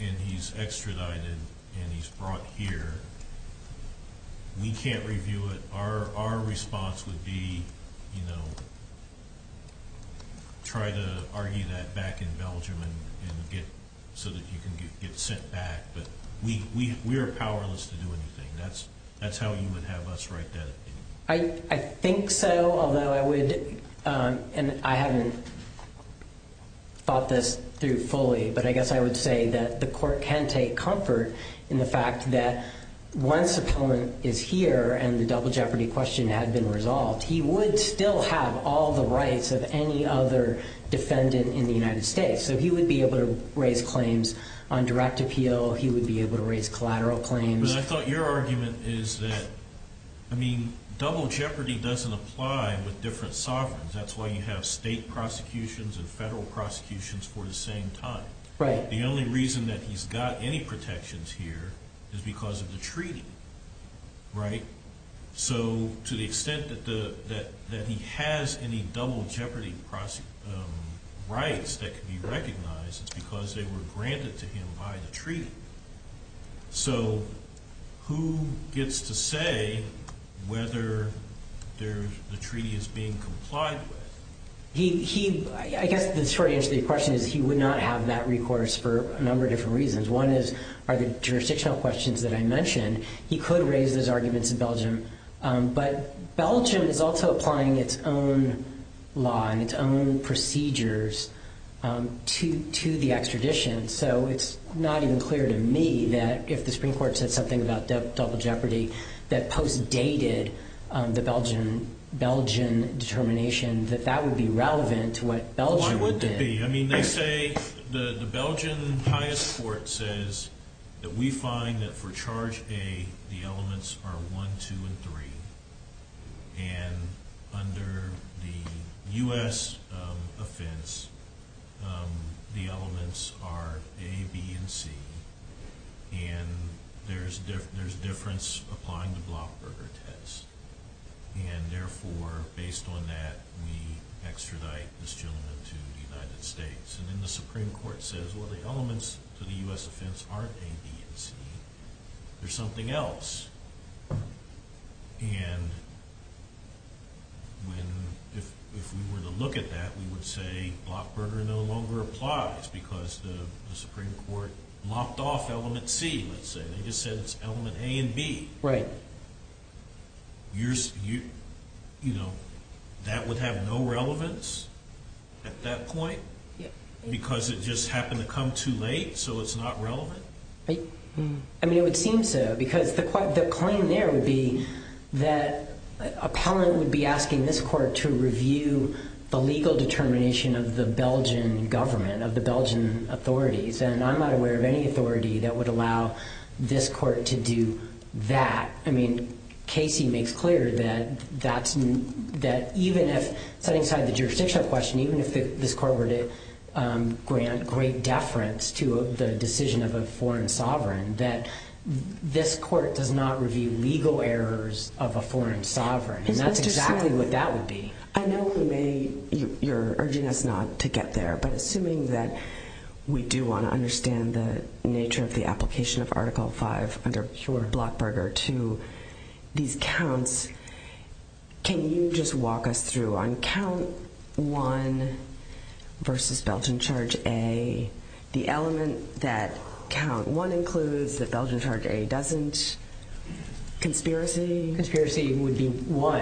And he's extradited And he's brought here We can't review it Our response would be You know Try to argue that Back in Belgium So that you can get sent back But we're powerless To do anything That's how you would have us write that I think so although I would And I haven't Thought this Through fully but I guess I would say That the court can take comfort In the fact that Once appellant is here and the double jeopardy Question has been resolved He would still have all the rights Of any other defendant In the United States so he would be able to Raise claims on direct appeal He would be able to raise collateral claims But I thought your argument is that I mean double jeopardy Doesn't apply with different sovereigns That's why you have state prosecutions And federal prosecutions For the same time The only reason that he's got any protections Here is because of the treaty Right So to the extent that He has any double jeopardy Rights That can be recognized Is because they were granted to him by the treaty So Who gets to say Whether The treaty is being Complied with I guess the short answer to your question Is that he would not have that recourse For a number of different reasons One is the jurisdictional questions that I mentioned He could raise his arguments in Belgium But Belgium Is also applying its own Law and its own procedures To the Extradition so it's Not even clear to me that If the Supreme Court said something about double jeopardy That post dated The Belgian Determination that that would be relevant To what Belgium would be I mean they say The Belgian highest court says That we find that for charge A the elements are 1, 2, and 3 And under The US Offense The elements are A, B, and C And there's Difference Applying the Blockberger test And therefore Based on that we extradite This gentleman to the United States And then the Supreme Court says Well the elements to the US offense are A, B, and C There's something else And When If we were to look at that we would say Blockberger no longer applies Because the Supreme Court Locked off element C It just says element A and B Right You know That would have no relevance At that point Because it just happened to come Too late so it's not relevant I mean it would seem so Because the claim there would be That Appellant would be asking this court to review The legal determination Of the Belgian government Of the Belgian authorities And I'm not aware of any authority That would allow this court to do That I mean Casey makes clear That Even if This court were to Grant great deference to The decision of a foreign sovereign That this court does not Review legal errors of a foreign sovereign And that's exactly what that would be I know You're urging us not to get there But assuming that We do want to understand the nature Of the application of article 5 Under blockberger to These counts Can you just walk us through On count 1 Versus Belgian charge A The element that Count 1 includes The Belgian charge A doesn't Conspiracy Conspiracy would be 1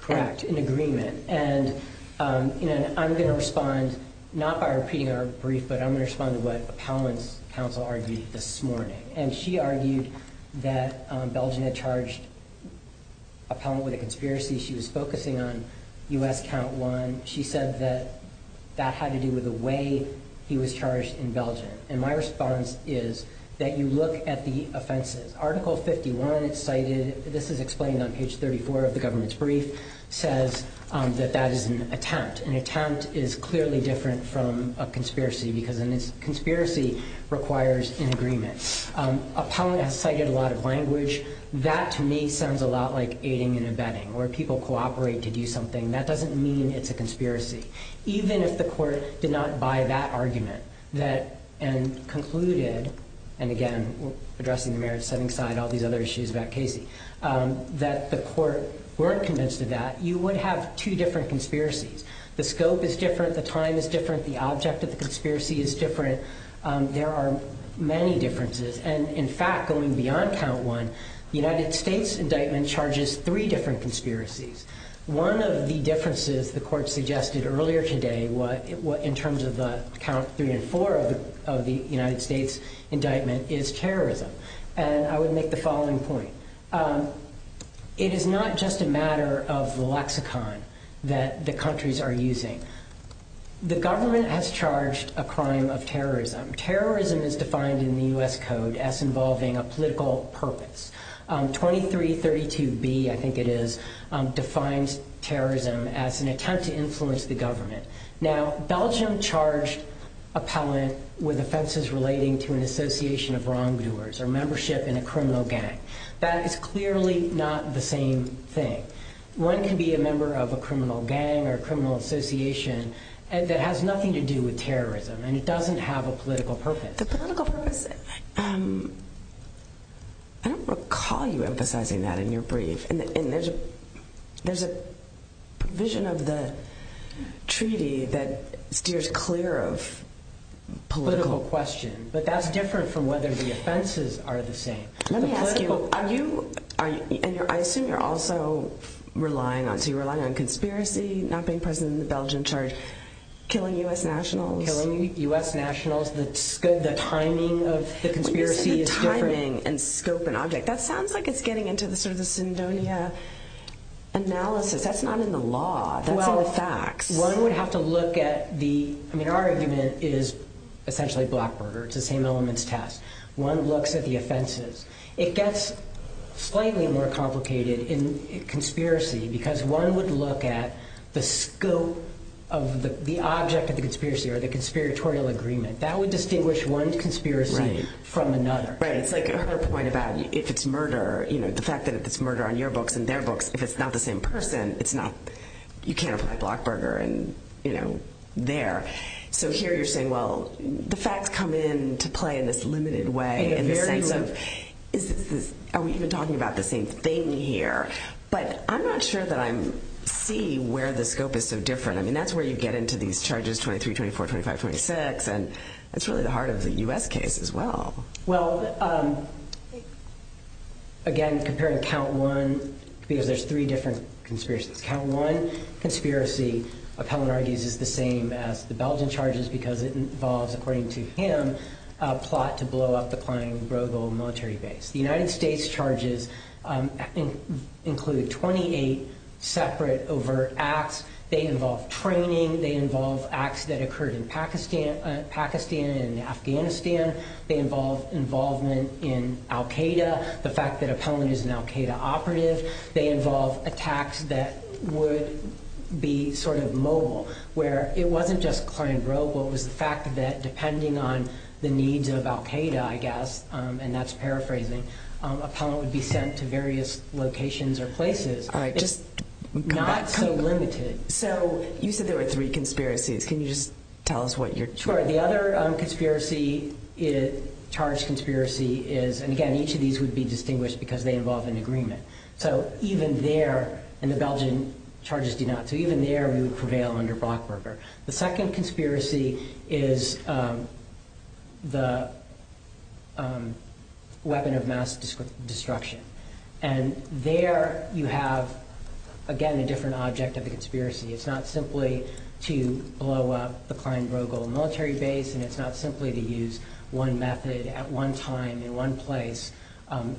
Correct That's an agreement And I'm going to respond Not by repeating our brief But I'm going to respond to what Appellant's counsel argued this morning And she argued that Belgian had charged Appellant with a conspiracy She was focusing on US count 1 She said that That had to do with the way He was charged in Belgium And my response is That you look at the offenses Article 51 This is explained on page 34 Of the government's brief Says that that is an attempt An attempt is clearly different from a conspiracy Because a conspiracy Requires an agreement Appellant has cited a lot of language That to me sounds a lot like Aiding and abetting Where people cooperate to do something That doesn't mean it's a conspiracy Even if the court did not buy that argument And concluded And again Addressing the merits That the court Weren't convinced of that You would have two different conspiracies The scope is different The time is different The object of the conspiracy is different There are many differences And in fact going beyond count 1 United States indictment charges Three different conspiracies One of the differences The court suggested earlier today In terms of count 3 and 4 Of the United States indictment Is terrorism And I would make the following point It is not just a matter Of lexicon That the countries are using The government has charged A crime of terrorism Terrorism is defined in the US code As involving a political purpose 2332B I think it is Defines terrorism as an attempt To influence the government Now Belgium charged A palette with offenses relating To an association of wrongdoers Or membership in a criminal gang That is clearly not the same thing One can be a member Of a criminal gang or criminal association That has nothing to do with terrorism And it doesn't have a political purpose A political purpose I don't recall you emphasizing that In your brief There is a Vision of the Treaty that Steers clear of Political questions But that is different from whether the offenses are the same I assume you are also Relying on conspiracy Not being present in the Belgium charge Killing US nationals Killing US nationals The timing of the conspiracy Is different The scope and object That sounds like it is getting into the Syndonia analysis That is not in the law One would have to look at Our argument is Essentially a blackboard One looks at the offenses It gets slightly more complicated In conspiracy Because one would look at The scope of The object of the conspiracy Or the conspiratorial agreement That would distinguish one conspiracy From another It is like her point about if it is murder The fact that if it is murder on your books And their books If it is not the same person You cannot apply Blackburger So here you are saying The facts come into play in this limited way Are we even talking about the same thing here? But I am not sure that I See where the scope is so different That is where you get into these charges 23, 24, 25, 26 That is really the heart of the U.S. case as well Well Again Compared to count one There are three different conspiracies Count one conspiracy Is the same as the Belgian charges Because it involves according to him A plot to blow up the Military base The United States charges Include 28 Separate over acts They involve training They involve acts that occurred in Pakistan And Afghanistan They involve involvement in Al Qaeda The fact that They involve attacks that would Be sort of mobile Where it wasn't just The fact that depending on The needs of Al Qaeda I guess and that is paraphrasing Be sent to various locations Or places So You said there were three Conspiracies Can you just tell us what you are talking about The other conspiracy Is And again each of these would be distinguished Because they involve an agreement So even there And the Belgian charges do not So even there you prevail under Brockberger The second conspiracy is The Weapon of mass destruction And there You have again a different Object of a conspiracy It's not simply to blow up The military base And it's not simply to use one method At one time in one place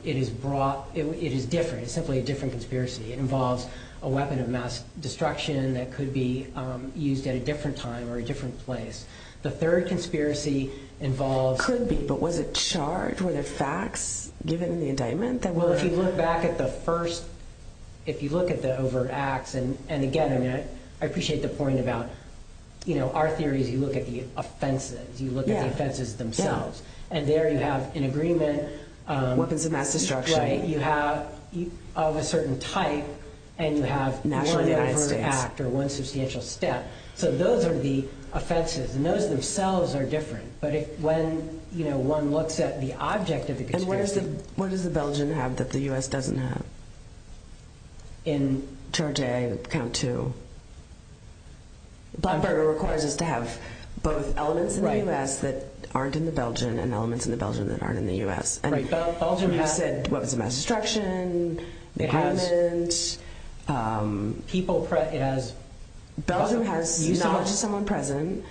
It is brought It is different It involves a weapon of mass destruction That could be used at a different time Or a different place The third conspiracy involves Could be but was it charged With a fax Given the indictment Well if you look back at the first If you look at the overt acts And again I appreciate the point about You know our theory You look at the offenses You look at the offenses themselves And there you have an agreement You have Of a certain type And you have one act Or one substantial step So those are the offenses And those themselves are different But when you know one looks at the Object of the conspiracy What does the Belgian have that the US doesn't have In Charge A, Count 2 Brockberger Requires us to have both elements In the US that aren't in the Belgian And elements in the Belgian that aren't in the US Belgian method Weapons of mass destruction People It has Belgium has Knowledge of someone present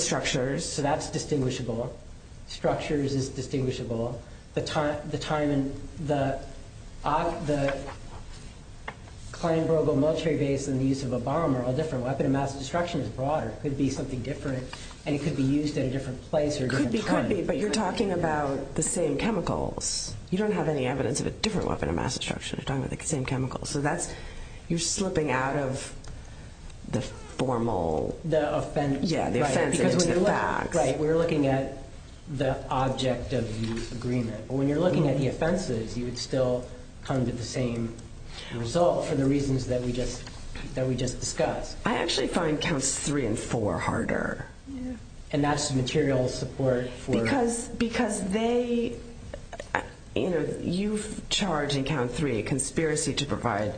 Structures So that's distinguishable Structures is distinguishable The The Klein-Brogl military base And the use of a bomb are all different Weapon of mass destruction is broader Could be something different And could be used at a different place But you're talking about the same chemicals You don't have any evidence of a different Weapon of mass destruction So that's You're slipping out of The formal Yeah We're looking at the Object of the agreement But when you're looking at the offenses You would still come to the same result For the reasons that we just Discussed I actually find Counts 3 and 4 harder And that's material support Because Because they You know You charge in Count 3 a conspiracy to provide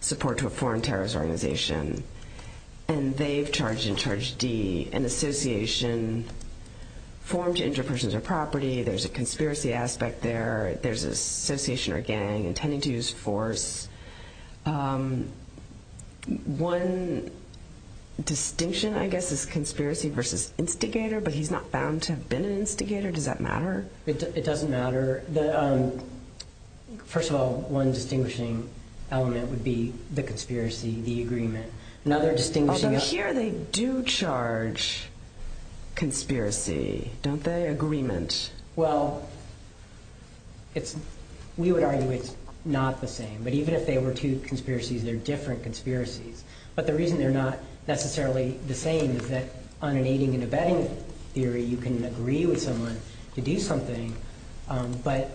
Support to a foreign terrorist organization And they've Charged in Charge D An association Formed to injure persons or property There's a conspiracy aspect there There's an association or gang Intending to use force One Distinction I guess Is conspiracy versus instigator But he's not bound to have been an instigator Does that matter? It doesn't matter First of all, one distinguishing element Would be the conspiracy The agreement Here they do charge Conspiracy Don't they? Agreement Well We would argue it's not the same But even if they were two conspiracies They're different conspiracies But the reason they're not necessarily the same Is that on an aiding and abetting Theory you can agree with someone To do something But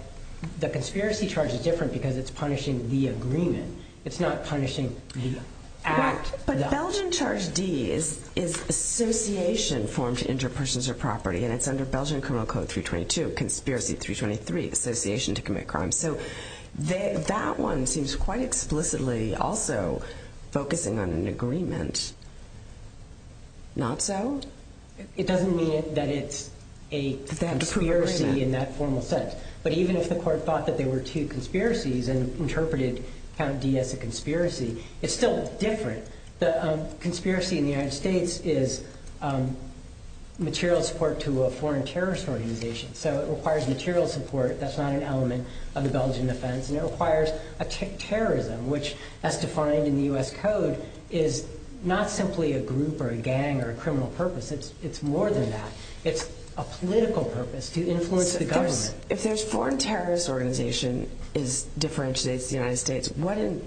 the conspiracy charge is different Because it's punishing the agreement It's not punishing the act But Belgian Charge D Is association Formed to injure persons or property And it's under Belgian Criminal Code 322 Conspiracy 323, association to commit crime So that one Seems quite explicitly Also focusing on an agreement Not so? It doesn't mean that it's a conspiracy In that formal sense But even if the court thought they were two conspiracies And interpreted D as a conspiracy It's still different But a conspiracy in the United States Is material support To a foreign terrorist organization So it requires material support That's not an element of the Belgian defense And it requires a terrorism Which as defined in the U.S. Code Is not simply a group Or a gang or a criminal purpose It's more than that It's a political purpose To influence the government If there's a foreign terrorist organization Differentiates the United States What in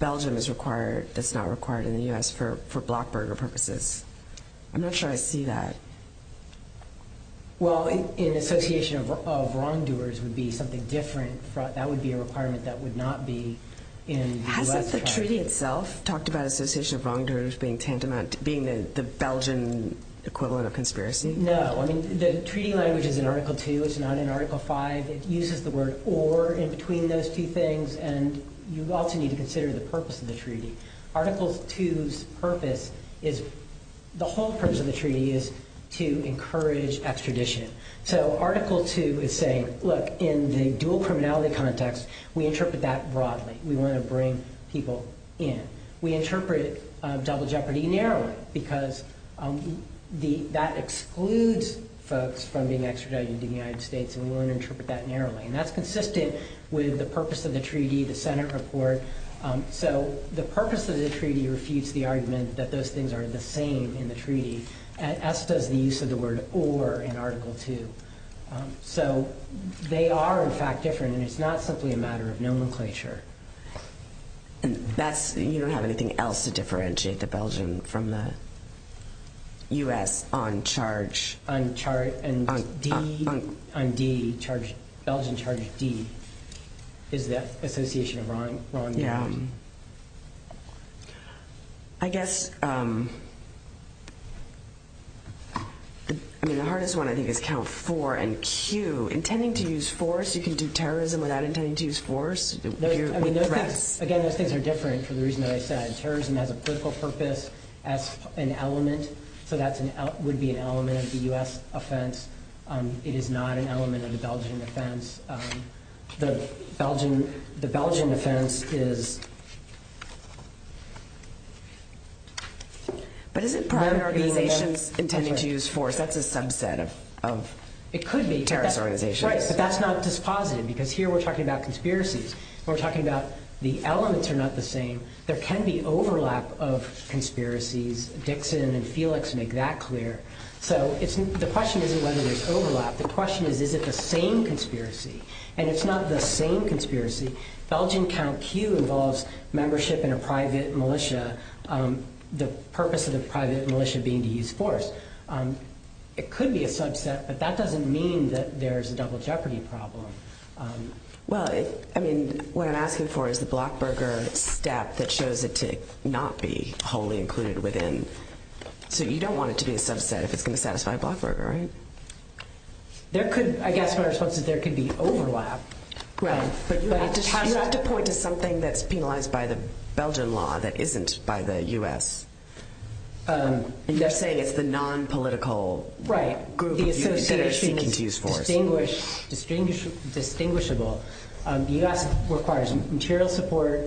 Belgium is required That's not required in the U.S. For blockburger purposes I'm not sure I see that Well in association of wrongdoers Would be something different That would be a requirement That would not be in the U.S. Has the treaty itself talked about Association of wrongdoers being tantamount Being the Belgian equivalent of conspiracy No The treaty language is in Article 2 It's not in Article 5 It uses the word or in between those two things And you also need to consider the purpose of the treaty Article 2's purpose Is The whole purpose of the treaty Is to encourage extradition So Article 2 is saying Look in the dual criminality context We interpret that broadly We want to bring people in We interpret it double jeopardy narrowly Because That excludes folks From being extradited to the United States And we want to interpret that narrowly And that's consistent with the purpose of the treaty The Senate report So the purpose of the treaty Refutes the argument that those things are the same In the treaty As does the use of the word or in Article 2 So They are in fact different And it's not simply a matter of nomenclature And that's You don't have anything else to differentiate the Belgian From the U.S. on charge On charge On D Belgian charge D Is the association of wrongdoers Yeah I guess The I mean The hardest one I think is count 4 and Q Intending to use force You can do terrorism without intending to use force Again These things are different for the reason I said Terrorism has a political purpose As an element So that would be an element of the U.S. offense It is not an element of the Belgian Offense The Belgian Offense is But Is it An organization Intending to use force That's a subset of It could be But that's not dispositive Because here we're talking about conspiracy We're talking about the elements are not the same There can be overlap of conspiracies Dixon and Felix make that clear So it's The question isn't whether there's overlap The question is is it the same conspiracy And it's not the same conspiracy Belgian count Q involves Membership in a private militia The purpose of the private Militia being to use force It could be a subset But that doesn't mean that there's a double jeopardy Problem Well I mean what I'm asking for Is the Blackburger that shows It to not be wholly included Within So you don't want it to be a subset if it's going to satisfy Blackburger Right There could I guess what I'm saying is there could be overlap Right You have to point to something that's penalized by the Belgian law That isn't by the US You're saying It's the non-political Right Distinguish Distinguishable The US requires material support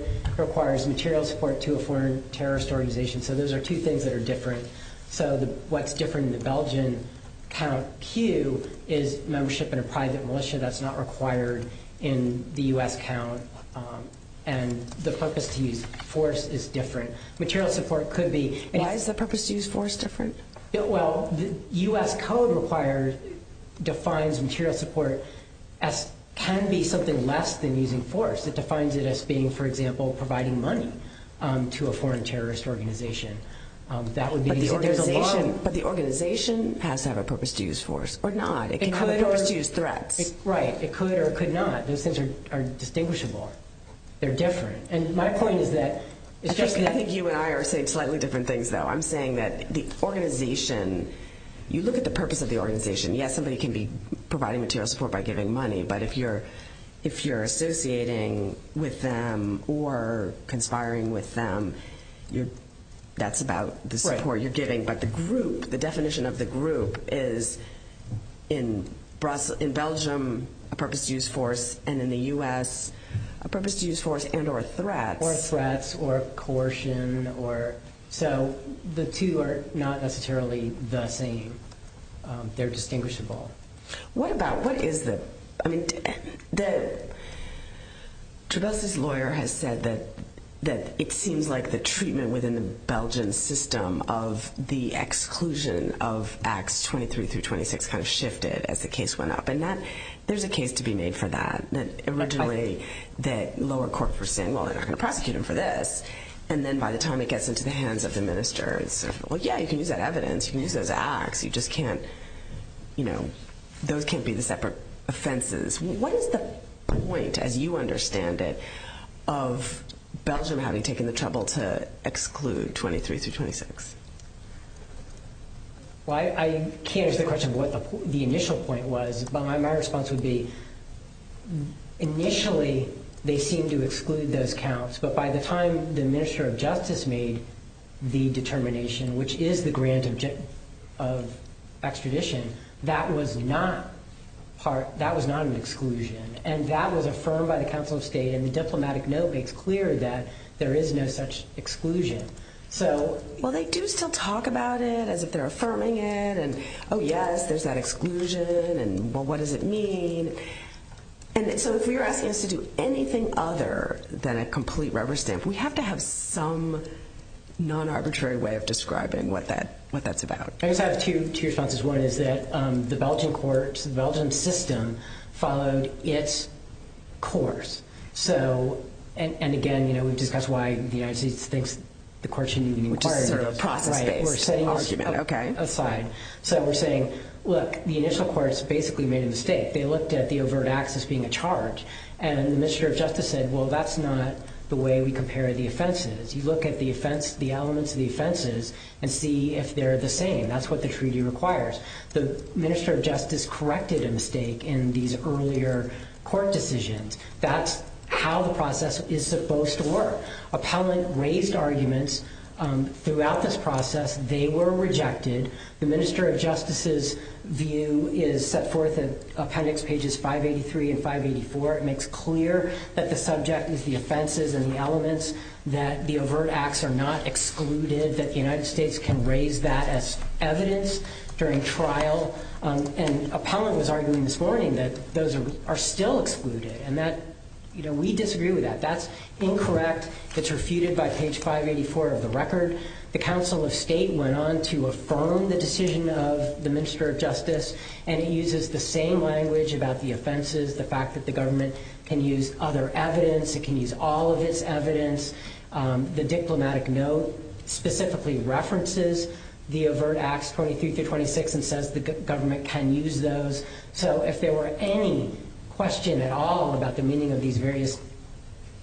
So those are two things that are different So what's different in the Belgian Count Q Is membership in a private militia That's not required in the US Count And the purpose to use force is different Material support could be Why is the purpose to use force different Well the US code requires Defines material Support as Can be something less than using force It defines it as being for example providing money To a foreign terrorist Organization But the organization Has to have a purpose to use force Or not It could or could not Those things are distinguishable They're different And my point is that I think you and I are saying slightly different things though I'm saying that the organization You look at the purpose of the organization Yes somebody can be providing material support by giving money But if you're Associating with them Or conspiring with them That's about The support you're giving But the group, the definition of the group Is in Belgium A purpose to use force And in the US A purpose to use force and or a threat Or threats or coercion So the two are Not necessarily the same They're distinguishable What about, what is it I mean Trudeau's lawyer has said That it seems like the treatment Within the Belgian system Of the exclusion Of acts 23 through 26 Kind of shifted as the case went up And there's a case to be made for that Originally that lower court Was saying well they're going to prosecute him for this And then by the time it gets into the hands Of the minister Yeah you can use that evidence, you can use those acts You just can't Those can't be the separate offenses What is the weight As you understand it Of Belgium having taken the trouble To exclude 23 through 26 Well I can't answer the question Of what the initial point was But my response would be Initially They seemed to exclude those counts But by the time the minister of justice made The determination Which is the grant of Extradition That was not That was not an exclusion And that was affirmed by the council of state And the diplomatic note makes clear That there is no such exclusion So Well they do still talk about it As if they're affirming it And oh yes there's that exclusion And well what does it mean So if you're asking us to do anything other Than a complete rubber stamp We have to have some Non-arbitrary way of describing What that's about I just have two responses One is that the Belgian court The Belgian system Followed its course So and again That's why the IC thinks The court shouldn't even inquire Right So we're saying Look the initial courts basically made a mistake They looked at the overt access being a charge And the minister of justice said Well that's not the way we compare the offenses You look at the elements of the offenses And see if they're the same That's what the treaty requires The minister of justice corrected a mistake In these earlier court decisions That's how the process Is supposed to work Appellant raised arguments Throughout this process They were rejected The minister of justice's view Is set forth appendix pages 583 and 584 It makes clear That the subject is the offenses And the elements That the overt acts are not excluded That the United States can raise that As evidence during trial And appellant was arguing this morning That those are still excluded And that We disagree with that That's incorrect That's refuted by page 584 of the record The council of state went on to affirm The decision of the minister of justice And uses the same language About the offenses The fact that the government can use other evidence It can use all of its evidence The diplomatic note Specifically references The overt acts 23 to 26 And says the government can use those So if there were any Question at all about the meaning of these Various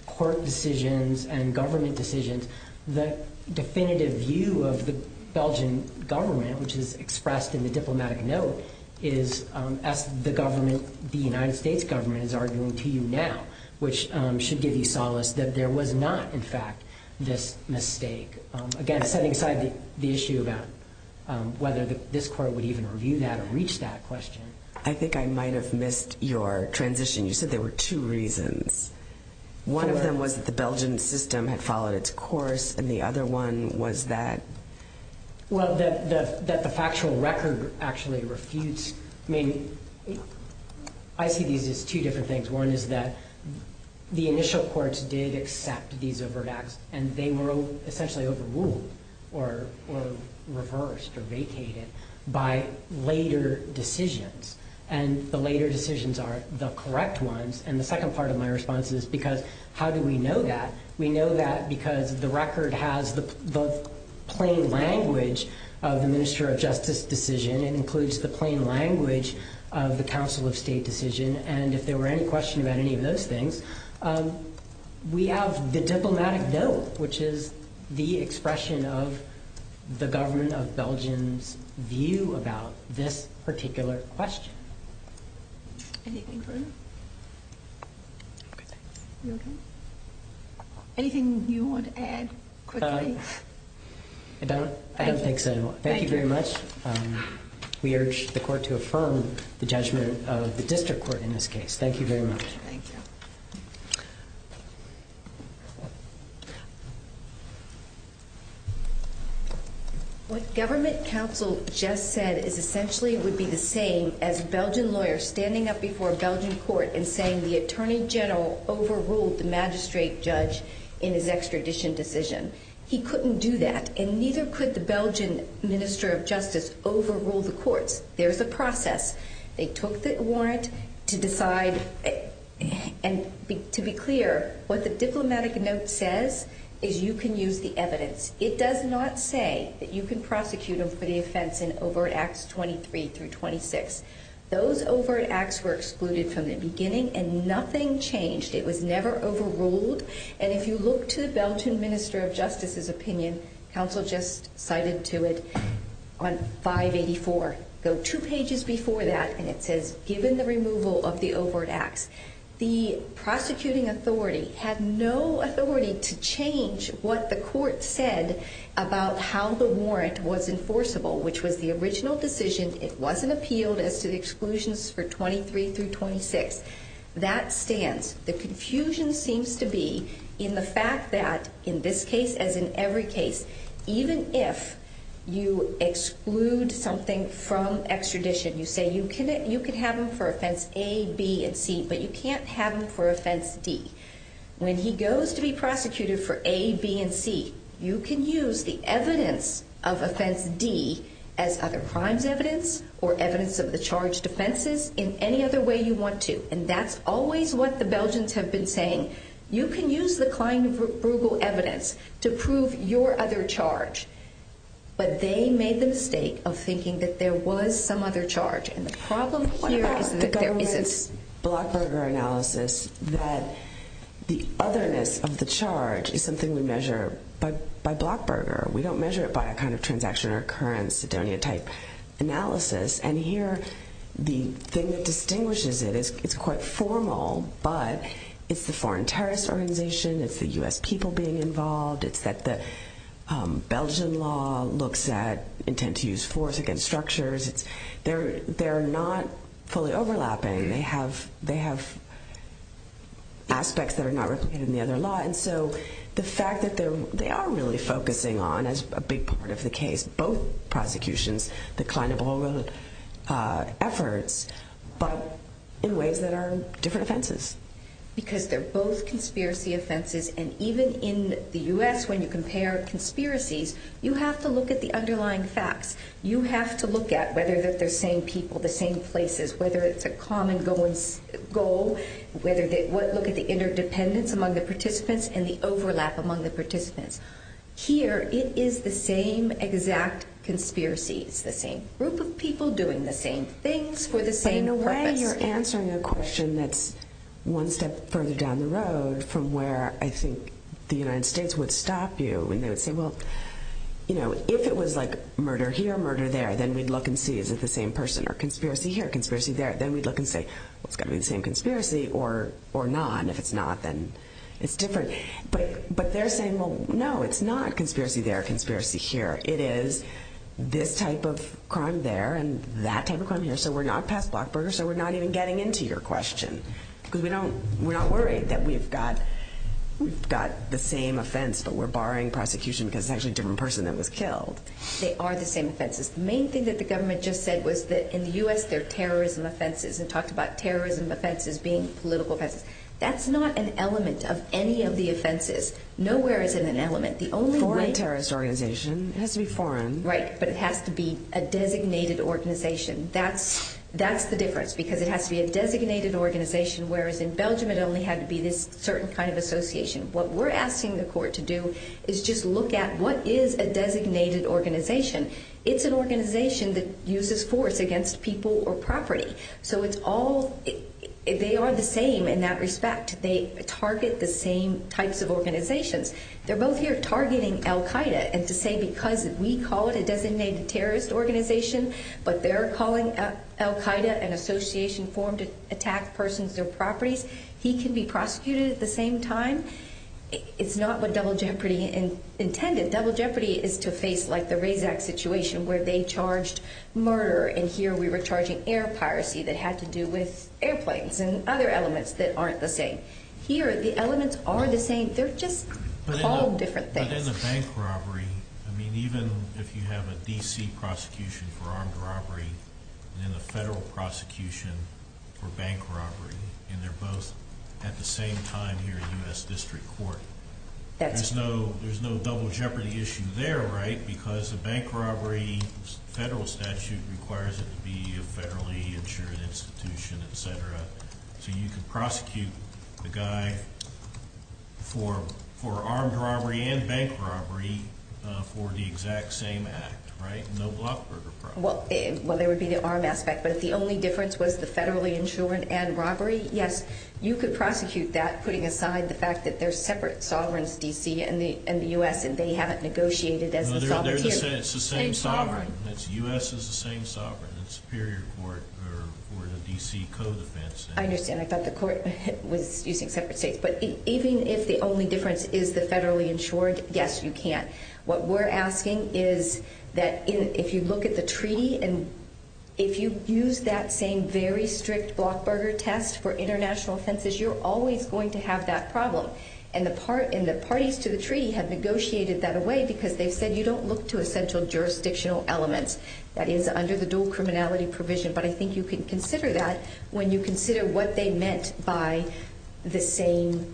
court decisions And government decisions The definitive view Of the Belgian government Which is expressed in the diplomatic note Is as the government The United States government Is arguing to you now Which should give you solace That there was not in fact this mistake Again setting aside the issue About whether this court Would even review that Or reach that question I think I might have missed your transition You said there were two reasons One of them was that the Belgian system Had followed its course And the other one was that Well that the factual record Actually refused I mean I see these as two different things One is that the initial courts Did accept these overt acts And they were essentially overruled Or reversed Or vacated By later decisions And the later decisions are the correct ones And the second part of my response Is because how do we know that We know that because the record Has the plain language Of the minister of justice Decision and includes the plain language Of the council of state decision And if there were any questions About any of those things We have the diplomatic note Which is the expression of The government of Belgium View about This particular question Anything you want to add I don't I don't think so Thank you very much We urge the court to affirm the judgment Of the district court in this case Thank you very much What government counsel just said Is essentially would be the same As Belgian lawyers standing up before A Belgian court and saying the attorney general Overruled the magistrate judge In his extradition decision He couldn't do that And neither could the Belgian minister of justice Overrule the court There's a process They took the warrant To decide And to be clear What the diplomatic note says Is you can use the evidence It does not say that you can prosecute Them for the offense in overt acts 23 through 26 Those overt acts were excluded From the beginning and nothing changed It was never overruled And if you look to the Belgian minister of justice Opinion Counsel just cited to it On 584 Two pages before that And it says given the removal of the overt acts The prosecuting authority Had no authority To change what the court said About how the warrant Was enforceable Which was the original decision It wasn't appealed as to the exclusions For 23 through 26 That stands The confusion seems to be In the fact that in this case As in every case Even if you exclude Something from extradition You say you can have him for offense A, B, and C But you can't have him for offense D When he goes to be prosecuted For A, B, and C You can use the evidence of offense D As other crimes evidence Or evidence of the charged offenses In any other way you want to And that's always what the Belgians have been saying You can use the kind of Provable evidence to prove Your other charge But they made the mistake of thinking That there was some other charge And the problem here is That there wasn't Blackburger analysis That the otherness of the charge Is something we measure by Blackburger We don't measure it by a kind of transaction Occurrence that there any type analysis And here The thing that distinguishes it Is quite formal But it's the foreign terrorist organization It's the U.S. people being involved It's that the Belgian law Looks at intent to use force Against structures They're not fully overlapping They have Aspects that are not Replicated in the other law And so the fact that they are really focusing on As a big part of the case Both prosecutions Decline of all real Efforts But in ways that are different offenses Because they're both conspiracy offenses And even in the U.S. When you compare conspiracies You have to look at the underlying facts You have to look at Whether they're the same people, the same places Look at the interdependence Among the participants And the overlap among the participants Here it is the same Exact conspiracy The same group of people doing the same things For the same purpose But in a way you're answering a question that's One step further down the road From where I think the United States Would stop you And they would say well If it was like murder here, murder there Then we'd look and see if it's the same person Or conspiracy here, conspiracy there Then we'd look and say It's got to be the same conspiracy or not And if it's not then it's different But they're saying No, it's not conspiracy there or conspiracy here It is this type of crime there And that type of crime here So we're not past Blackburger So we're not even getting into your question Because we're not worried that we've got We've got the same offense But we're barring prosecution Because it's actually a different person that was killed They are the same offenses The main thing that the government just said was that In the U.S. they're terrorism offenses They talked about terrorism offenses being political offenses That's not an element Of any of the offenses Nowhere is it an element It has to be foreign But it has to be a designated organization That's the difference Because it has to be a designated organization Whereas in Belgium it only had to be this Certain kind of association What we're asking the court to do Is just look at what is a designated organization It's an organization That uses force against people or property So it's all They are the same in that respect They target the same types of organizations They're both here targeting Al-Qaeda And to say because We call it a designated terrorist organization But they're calling Al-Qaeda An association formed to attack Persons or properties He can be prosecuted at the same time It's not what Double Jeopardy Intended Double Jeopardy is to face like the Razak situation Where they charged murder And here we were charging air piracy That had to do with airplanes And other elements that aren't the same Here the elements are the same They're just all different things But in the bank robbery Even if you have a DC prosecution For armed robbery And then a federal prosecution For bank robbery And they're both at the same time Here in the U.S. District Court There's no Double Jeopardy issue there Because the bank robbery Federal statute requires it to be A federally insured institution Etc. So you can prosecute a guy For armed robbery And bank robbery For the exact same act Right? Well there would be the armed aspect But the only difference was the federally insured And robbery Yes, you could prosecute that Putting aside the fact that there's separate sovereigns In the U.S. and they haven't negotiated It's the same sovereign The U.S. is the same sovereign In the Superior Court Or the DC Code I understand, I thought the court was using separate states But even if the only difference Is the federally insured Yes, you can What we're asking is If you look at the treaty If you use that same very strict Blockburger test for international census You're always going to have that problem And the parties to the treaty Have negotiated that away Because they said you don't look to a central jurisdictional element That is under the dual criminality provision But I think you can consider that When you consider what they meant By the same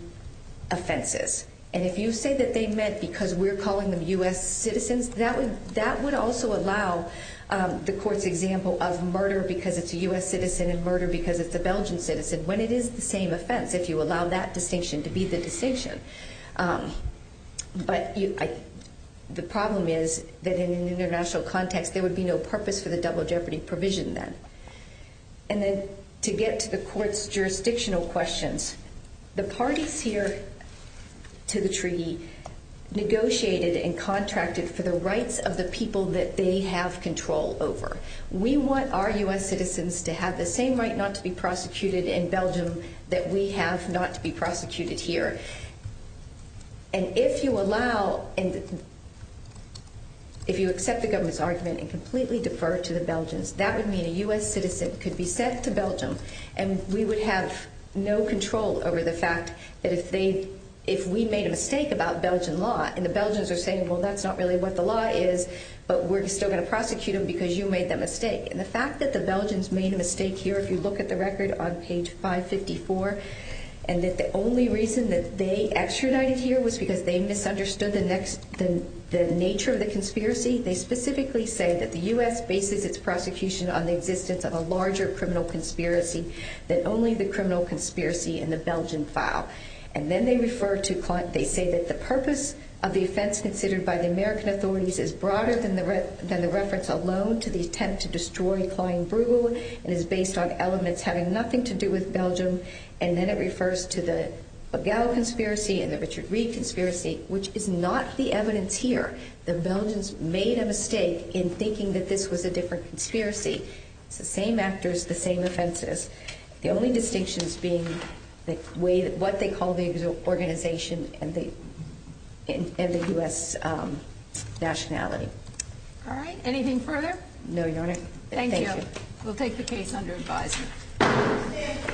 Offenses And if you say that they meant Because we're calling them U.S. citizens That would also allow The court's example of murder Because it's a U.S. citizen And murder because it's a Belgian citizen When it is the same offense If you allow that distinction to be the distinction But The problem is That in an international context There would be no purpose for the double jeopardy provision then And then To get to the court's jurisdictional questions The parties here To the treaty Negotiated and contracted For the rights of the people That they have control over We want our U.S. citizens To have the same right not to be prosecuted In Belgium that we have Not to be prosecuted here And if you allow And If you accept the government's argument And completely defer to the Belgians That would mean a U.S. citizen could be sent to Belgium And we would have No control over the fact That if we made a mistake About Belgian law And the Belgians are saying well that's not really what the law is But we're still going to prosecute them Because you made that mistake And the fact that the Belgians made a mistake here If you look at the record on page 554 And that the only reason That they extradited here Was because they misunderstood The nature of the conspiracy They specifically say that the U.S. Bases its prosecution on the existence Of a larger criminal conspiracy Than only the criminal conspiracy in the Belgian file And then they refer to They say that the purpose Of the offense considered by the American authorities Is broader than the reference Alone to the attempt to destroy Klein Bruegel And is based on elements Having nothing to do with Belgium And then it refers to the Begel conspiracy and the Richard Reed conspiracy Which is not the evidence here The Belgians made a mistake In thinking that this was a different conspiracy The same actors The same offenses The only distinction being What they call the organization And the U.S. nationality Alright, anything further? No, your honor Thank you, we'll take the case under advisement